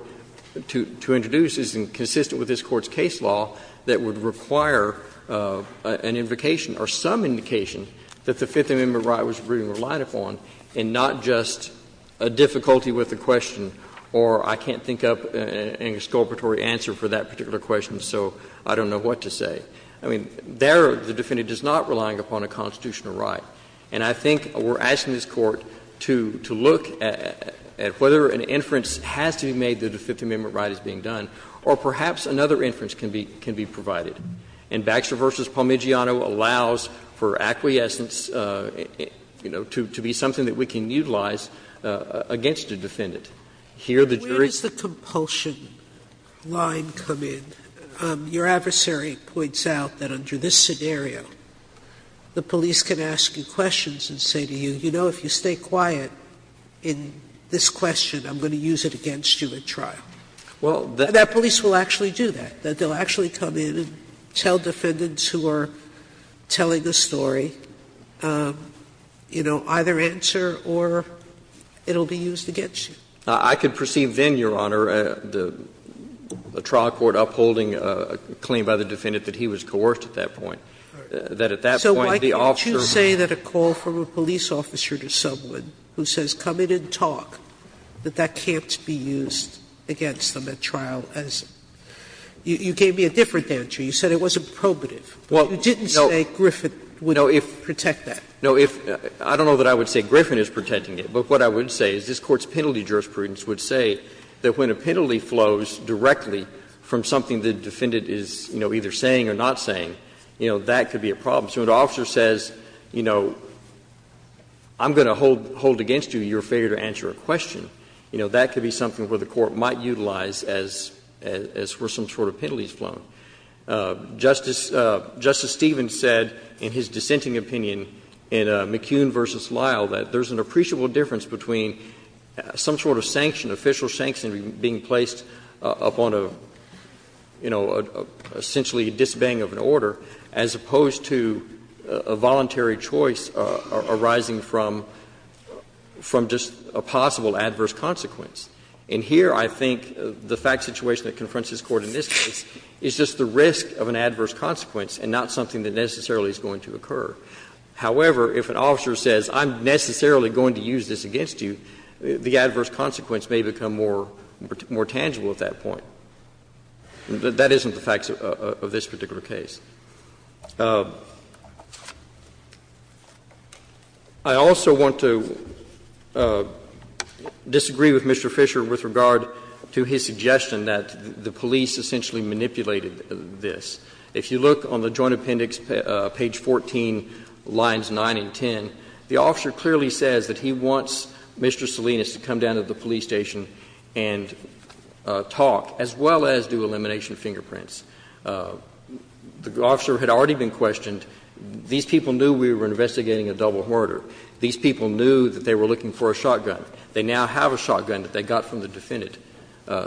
to introduce is consistent with this Court's case law that would require an invocation or some indication that the Fifth Amendment right was relied upon, and not just a difficulty with the question or I can't think up an exculpatory answer for that particular question, so I don't know what to say. I mean, there, the defendant is not relying upon a constitutional right. And I think we're asking this Court to look at whether an inference has to be made that a Fifth Amendment right is being done, or perhaps another inference can be provided. And Baxter v. Palmigiano allows for acquiescence, you know, to be something that we can utilize against a defendant. Here, the jury can't. As you're telling me about a propulsion line coming, your adversary points out that under this scenario the police can ask you questions and say to you, you know, if you stay quiet in this question, I'm going to use it against you at trial. That police will actually do that, that they'll actually come in and tell defendants who are telling the story, you know, either answer or it'll be used against you. I could perceive then, Your Honor, the trial court upholding a claim by the defendant that he was coerced at that point. That at that point the officer So why can't you say that a call from a police officer to someone who says come in and talk, that that can't be used against them at trial as you gave me a different answer. You said it wasn't probative, but you didn't say Griffin would protect that. No, if – I don't know that I would say Griffin is protecting it, but what I would say is this Court's penalty jurisprudence would say that when a penalty flows directly from something the defendant is, you know, either saying or not saying, you know, that could be a problem. So when the officer says, you know, I'm going to hold against you your failure to answer a question, you know, that could be something where the Court might utilize as were some sort of penalties flown. Justice – Justice Stevens said in his dissenting opinion in McKeown v. Lyle that there's an appreciable difference between some sort of sanction, official sanction being placed upon a, you know, essentially a disobeying of an order as opposed to a voluntary choice arising from – from just a possible adverse consequence. And here I think the fact situation that confronts this Court in this case is just the risk of an adverse consequence and not something that necessarily is going to occur. However, if an officer says, I'm necessarily going to use this against you, the adverse consequence may become more tangible at that point. That isn't the facts of this particular case. I also want to disagree with Mr. Fisher with regard to his suggestion that the police essentially manipulated this. If you look on the Joint Appendix, page 14, lines 9 and 10, the officer clearly says that he wants Mr. Salinas to come down to the police station and talk, as well as do elimination fingerprints. The officer had already been questioned. These people knew we were investigating a double murder. These people knew that they were looking for a shotgun. They now have a shotgun that they got from the defendant.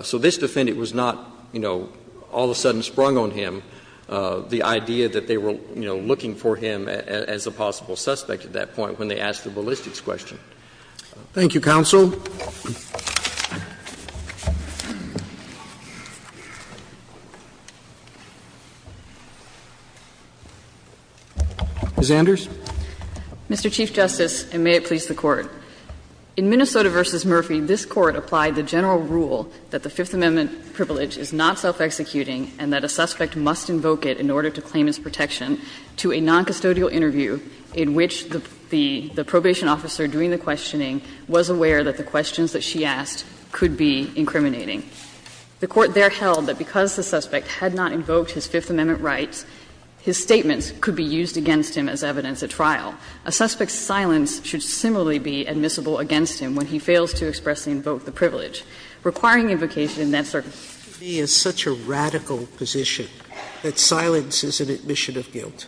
So this defendant was not, you know, all of a sudden sprung on him, the idea that they were, you know, looking for him as a possible suspect at that point when they asked the ballistics question. Thank you, counsel. Ms. Anders. Mr. Chief Justice, and may it please the Court. In Minnesota v. Murphy, this Court applied the general rule that the Fifth Amendment privilege is not self-executing and that a suspect must invoke it in order to claim his protection to a noncustodial interview in which the probation officer doing the questioning was aware that the questions that she asked could be incriminating. The Court there held that because the suspect had not invoked his Fifth Amendment rights, his statements could be used against him as evidence at trial. A suspect's silence should similarly be admissible against him when he fails to express and invoke the privilege, requiring invocation in that circumstance. Sotomayor, I think you have to understand that this Court, to me, is such a radical position that silence is an admission of guilt.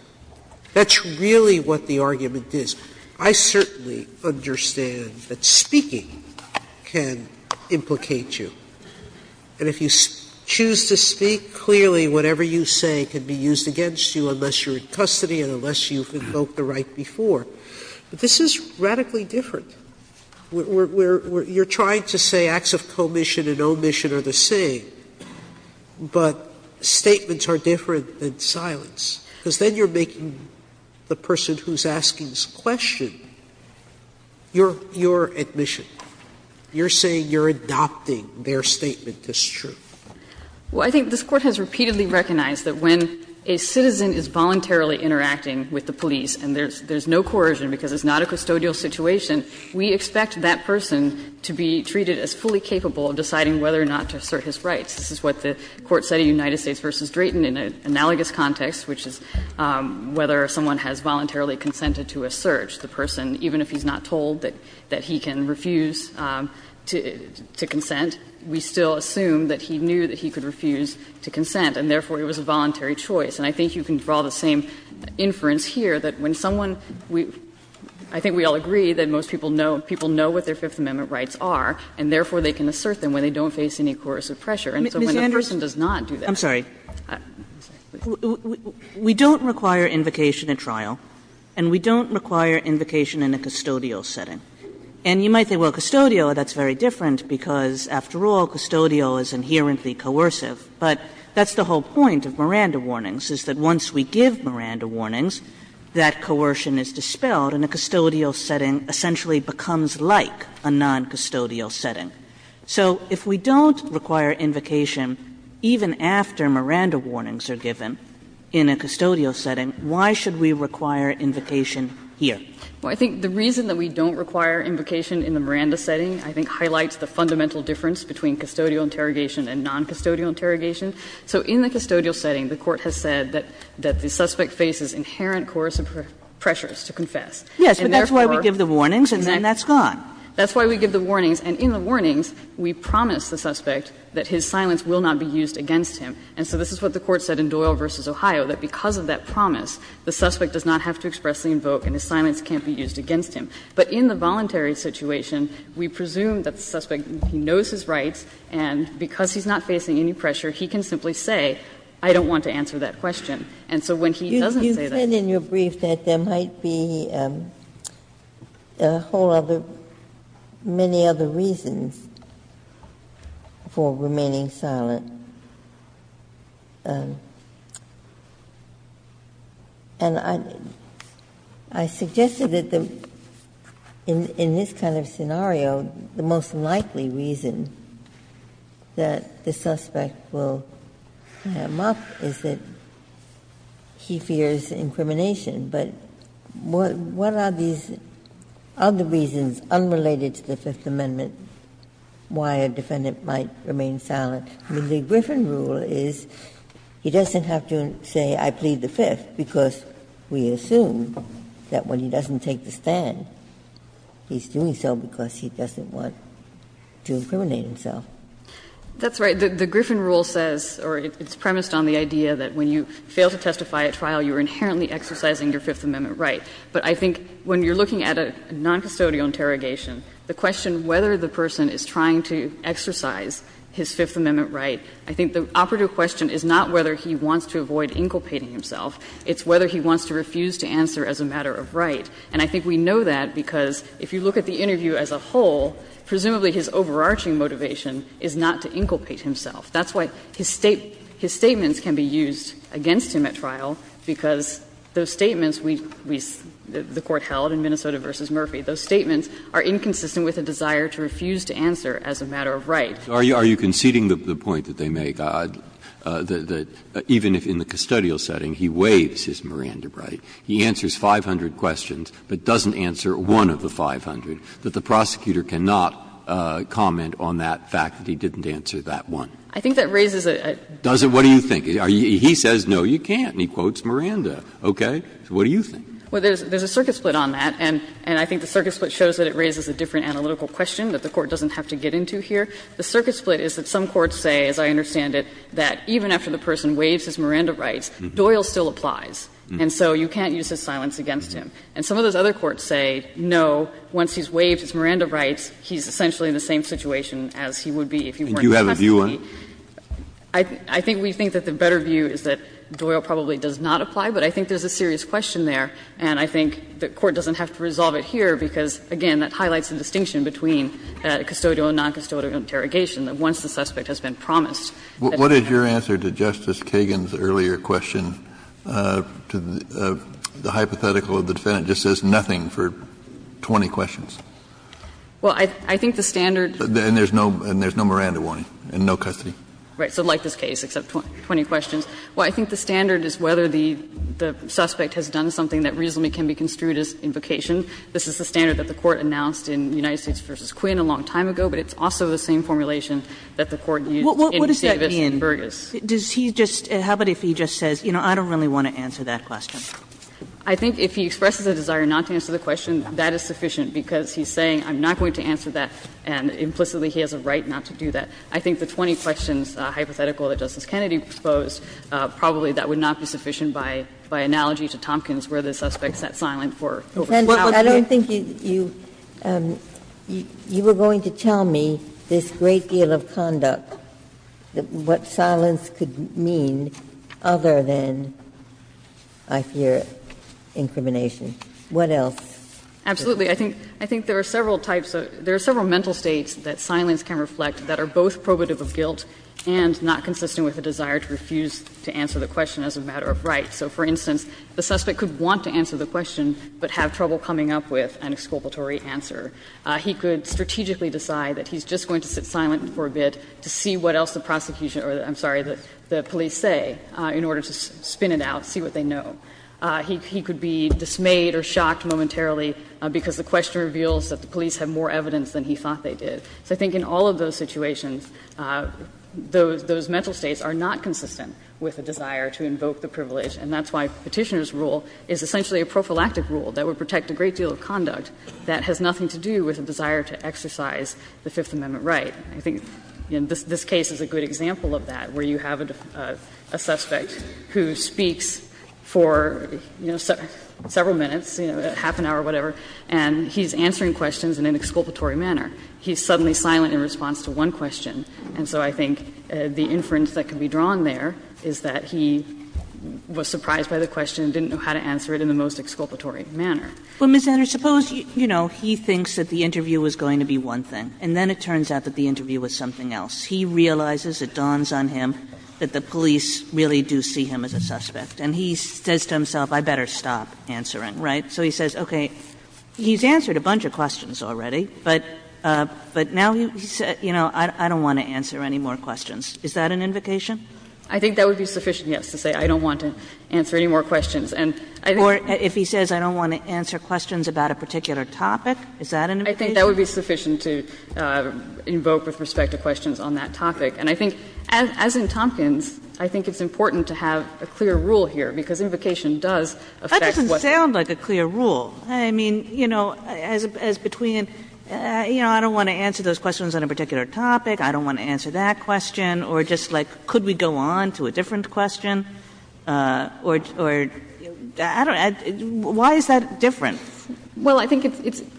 That's really what the argument is. I certainly understand that speaking can implicate you, and if you choose to speak, clearly whatever you say can be used against you unless you're in custody and unless you've invoked the right before, but this is radically different. Sotomayor, you're trying to say acts of commission and omission are the same, but statements are different than silence, because then you're making the person who's asking this question your admission. You're saying you're adopting their statement as true. Well, I think this Court has repeatedly recognized that when a citizen is voluntarily interacting with the police and there's no coercion because it's not a custodial situation, we expect that person to be treated as fully capable of deciding whether or not to assert his rights. This is what the Court said in United States v. Drayton in an analogous context, which is whether someone has voluntarily consented to assert. The person, even if he's not told that he can refuse to consent, we still assume that he knew that he could refuse to consent, and therefore it was a voluntary choice. And I think you can draw the same inference here, that when someone we – I think we all agree that most people know what their Fifth Amendment rights are, and therefore they can assert them when they don't face any coercive pressure. And so when a person does not do that – Kagan, we don't require invocation at trial, and we don't require invocation in a custodial setting. And you might say, well, custodial, that's very different, because after all, custodial is inherently coercive. But that's the whole point of Miranda warnings, is that once we give Miranda warnings, that coercion is dispelled, and a custodial setting essentially becomes like a noncustodial setting. So if we don't require invocation even after Miranda warnings are given in a custodial setting, why should we require invocation here? Well, I think the reason that we don't require invocation in the Miranda setting I think highlights the fundamental difference between custodial interrogation and noncustodial interrogation. So in the custodial setting, the Court has said that the suspect faces inherent coercive pressures to confess. And therefore— Kagan, and that's why we give the warnings, and then that's gone. That's why we give the warnings. And in the warnings, we promise the suspect that his silence will not be used against him. And so this is what the Court said in Doyle v. Ohio, that because of that promise, the suspect does not have to expressly invoke and his silence can't be used against him. But in the voluntary situation, we presume that the suspect knows his rights, and because he's not facing any pressure, he can simply say, I don't want to answer that question. And so when he doesn't say that— Ginsburg, you said in your brief that there might be a whole other, many other reasons for remaining silent. And I suggested that in this kind of scenario, the most likely reason is that the suspect will ham up, is that he fears incrimination. But what are these other reasons unrelated to the Fifth Amendment why a defendant might remain silent? I mean, the Griffin rule is he doesn't have to say, I plead the Fifth, because we assume that when he doesn't take the stand, he's doing so because he doesn't want to incriminate himself. That's right. The Griffin rule says, or it's premised on the idea that when you fail to testify at trial, you are inherently exercising your Fifth Amendment right. But I think when you're looking at a noncustodial interrogation, the question whether the person is trying to exercise his Fifth Amendment right, I think the operative question is not whether he wants to avoid inculpating himself, it's whether he wants to refuse to answer as a matter of right. And I think we know that because if you look at the interview as a whole, presumably his overarching motivation is not to inculpate himself. That's why his statements can be used against him at trial, because those statements we the Court held in Minnesota v. Murphy, those statements are inconsistent with a desire to refuse to answer as a matter of right. Breyer, are you conceding the point that they make, that even if in the custodial setting he waives his Miranda right, he answers 500 questions but doesn't answer one of the 500, that the prosecutor cannot comment on that fact that he didn't answer that one? I think that raises a question. What do you think? He says no, you can't, and he quotes Miranda. Okay. What do you think? Well, there's a circuit split on that, and I think the circuit split shows that it raises a different analytical question that the Court doesn't have to get into here. The circuit split is that some courts say, as I understand it, that even after the person waives his Miranda rights, Doyle still applies. And so you can't use his silence against him. And some of those other courts say, no, once he's waived his Miranda rights, he's essentially in the same situation as he would be if he weren't the defendant. Kennedy, I think we think that the better view is that Doyle probably does not apply, but I think there's a serious question there. And I think the Court doesn't have to resolve it here, because, again, that highlights the distinction between custodial and noncustodial interrogation, that once the suspect has been promised. Kennedy, what is your answer to Justice Kagan's earlier question, to the hypothetical that the defendant just says nothing for 20 questions? Well, I think the standard. And there's no Miranda warning, and no custody? Right. So like this case, except 20 questions. Well, I think the standard is whether the suspect has done something that reasonably can be construed as invocation. This is the standard that the Court announced in United States v. Quinn a long time ago, but it's also the same formulation that the Court used in Davis and Burgess. What does that mean? Does he just – how about if he just says, you know, I don't really want to answer that question? I think if he expresses a desire not to answer the question, that is sufficient, because he's saying I'm not going to answer that, and implicitly he has a right not to do that. I think the 20 questions hypothetical that Justice Kennedy proposed, probably that would not be sufficient by analogy to Tompkins, where the suspect sat silent for an hour. Ginsburg. I don't think you – you were going to tell me this great deal of conduct, what silence could mean other than, I fear, incrimination. What else? Absolutely. I think there are several types of – there are several mental states that silence can reflect that are both probative of guilt and not consistent with a desire to refuse to answer the question as a matter of right. So, for instance, the suspect could want to answer the question, but have trouble coming up with an exculpatory answer. He could strategically decide that he's just going to sit silent for a bit to see what else the prosecution – or, I'm sorry, the police say in order to spin it out, see what they know. He could be dismayed or shocked momentarily because the question reveals that the police have more evidence than he thought they did. So I think in all of those situations, those mental states are not consistent with a desire to invoke the privilege, and that's why Petitioner's rule is essentially a prophylactic rule that would protect a great deal of conduct that has nothing to do with a desire to exercise the Fifth Amendment right. I think this case is a good example of that, where you have a suspect who speaks for, you know, several minutes, you know, half an hour, whatever, and he's answering questions in an exculpatory manner. He's suddenly silent in response to one question. And so I think the inference that can be drawn there is that he was surprised by the question, didn't know how to answer it in the most exculpatory manner. Kagan. Kagan. But, Ms. Enner, suppose, you know, he thinks that the interview was going to be one thing, and then it turns out that the interview was something else. He realizes, it dawns on him, that the police really do see him as a suspect. And he says to himself, I'd better stop answering, right? So he says, okay, he's answered a bunch of questions already, but now he says, you know, I don't want to answer any more questions. Is that an invocation? Enner. I think that would be sufficient, yes, to say I don't want to answer any more questions. And I think that's sufficient to invoke with respect to questions on that topic. And I think, as in Tompkins, I think it's important to have a clear rule here, because invocation does affect what's going on. Kagan. That doesn't sound like a clear rule. I mean, you know, as between, you know, I don't want to answer those questions on a particular topic, I don't want to answer that question, or just, like, could we go on to a different question, or, I don't know, why is that different? Well, I think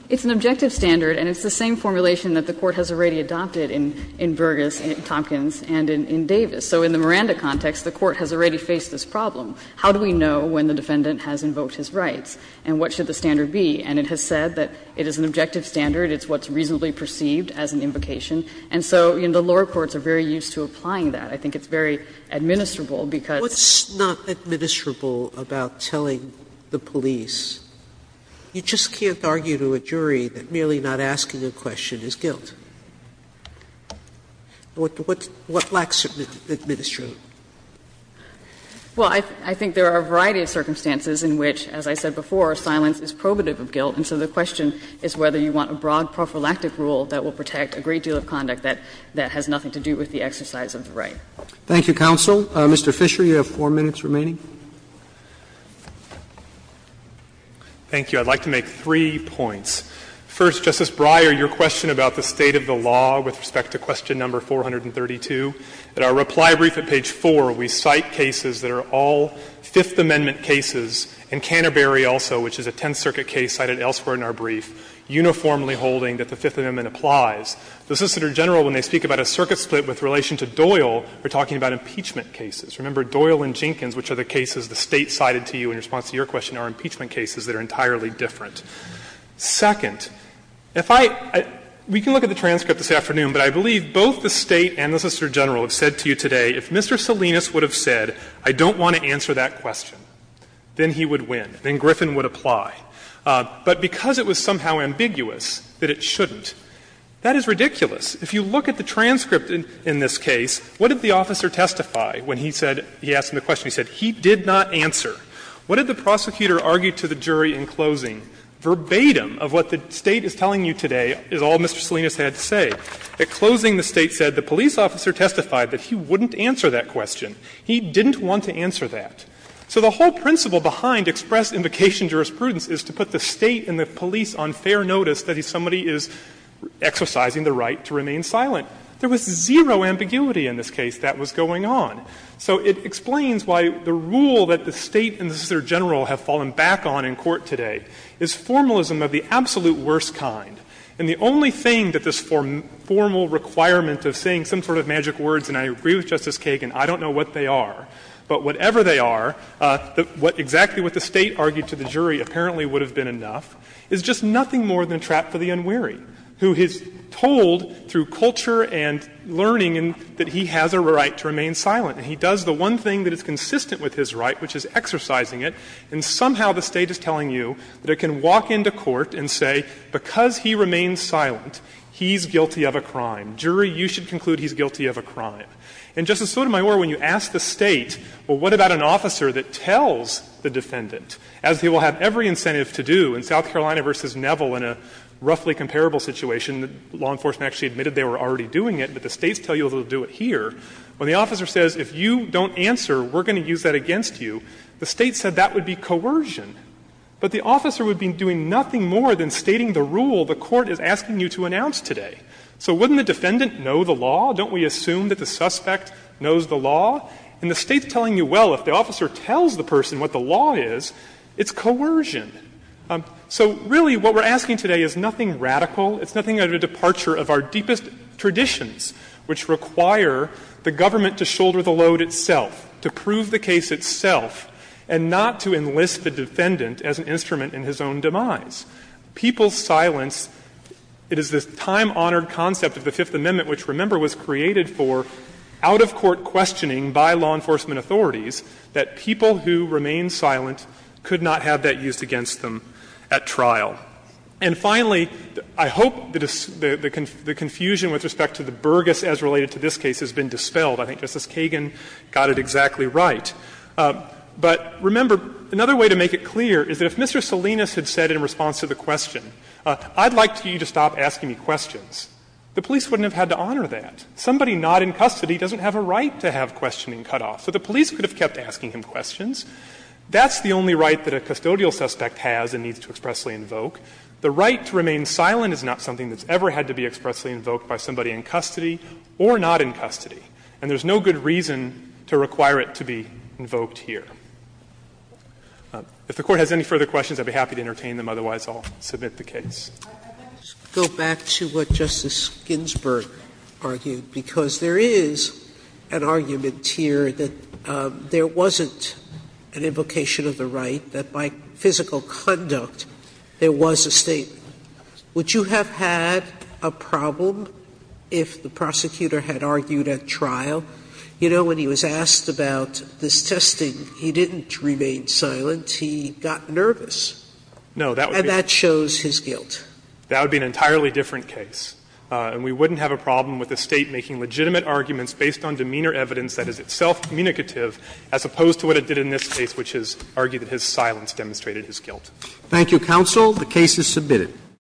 it's an objective standard, and it's the same formulation that the Court has already adopted in Burgess, in Tompkins, and in Davis. So in the Miranda context, the Court has already faced this problem. How do we know when the defendant has invoked his rights, and what should the standard be? And it has said that it is an objective standard, it's what's reasonably perceived as an invocation. And so, you know, the lower courts are very used to applying that. I think it's very administrable, because Sotomayor What's not administrable about telling the police? You just can't argue to a jury that merely not asking a question is guilt. What lacks administration? Well, I think there are a variety of circumstances in which, as I said before, silence is probative of guilt, and so the question is whether you want a broad prophylactic rule that will protect a great deal of conduct that has nothing to do with the exercise of the right. Roberts. Thank you, counsel. Mr. Fisher, you have 4 minutes remaining. Fisher. Thank you. I'd like to make three points. First, Justice Breyer, your question about the state of the law with respect to question number 432. At our reply brief at page 4, we cite cases that are all Fifth Amendment cases, and Canterbury also, which is a Tenth Circuit case cited elsewhere in our brief, uniformly holding that the Fifth Amendment applies. The Assistant Attorney General, when they speak about a circuit split with relation to Doyle, they're talking about impeachment cases. Remember, Doyle and Jenkins, which are the cases the State cited to you in response to your question, are impeachment cases that are entirely different. Second, if I — we can look at the transcript this afternoon, but I believe both the State and the Assistant Attorney General have said to you today, if Mr. Salinas would have said, I don't want to answer that question, then he would win, then Griffin would apply. But because it was somehow ambiguous that it shouldn't, that is ridiculous. If you look at the transcript in this case, what did the officer testify when he said — he asked him the question, he said, he did not answer? What did the prosecutor argue to the jury in closing, verbatim, of what the State is telling you today, is all Mr. Salinas had to say. At closing, the State said the police officer testified that he wouldn't answer that question. He didn't want to answer that. So the whole principle behind express invocation jurisprudence is to put the State and the police on fair notice that somebody is exercising the right to remain silent. There was zero ambiguity in this case that was going on. So it explains why the rule that the State and the Assistant Attorney General have fallen back on in court today is formalism of the absolute worst kind. And the only thing that this formal requirement of saying some sort of magic words — and I agree with Justice Kagan, I don't know what they are, but whatever they are, what exactly what the State argued to the jury apparently would have been enough — is just nothing more than a trap for the unwary, who is told through culture and learning that he has a right to remain silent. And he does the one thing that is consistent with his right, which is exercising it, and somehow the State is telling you that it can walk into court and say, because he remains silent, he's guilty of a crime. Jury, you should conclude he's guilty of a crime. And, Justice Sotomayor, when you ask the State, well, what about an officer that tells the defendant, as he will have every incentive to do in South Carolina v. Neville in a roughly comparable situation, the law enforcement actually admitted they were already doing it, but the States tell you they will do it here, when the officer says, if you don't answer, we're going to use that against you, the State said that would be coercion, but the officer would be doing nothing more than stating the rule the court is asking you to announce today. So wouldn't the defendant know the law? Don't we assume that the suspect knows the law? And the State's telling you, well, if the officer tells the person what the law is, it's coercion. So, really, what we're asking today is nothing radical. It's nothing out of a departure of our deepest traditions, which require the government to shoulder the load itself, to prove the case itself, and not to enlist the defendant as an instrument in his own demise. And finally, I hope the confusion with respect to the burghess as related to this case has been dispelled. I think Justice Kagan got it exactly right. But, remember, another way to make it clear is that if Mr. Salinas had said in response to the question, I'd like for you to stop asking me questions, the police wouldn't have had to honor that. Somebody not in custody doesn't have a right to have questioning cut off. So the police could have kept asking him questions. That's the only right that a custodial suspect has and needs to expressly invoke. The right to remain silent is not something that's ever had to be expressly invoked by somebody in custody or not in custody, and there's no good reason to require it to be invoked here. If the Court has any further questions, I'd be happy to entertain them. Otherwise, I'll submit the case. Sotomayor, I'd like to go back to what Justice Ginsburg argued, because there is an argument here that there wasn't an invocation of the right, that by physical conduct there was a statement. Would you have had a problem if the prosecutor had argued at trial? You know, when he was asked about this testing, he didn't remain silent. He got nervous. No, that would be a different case. And that shows his guilt. That would be an entirely different case. And we wouldn't have a problem with the State making legitimate arguments based on demeanor evidence that is itself communicative as opposed to what it did in this case, which is argue that his silence demonstrated his guilt. Thank you, counsel. The case is submitted.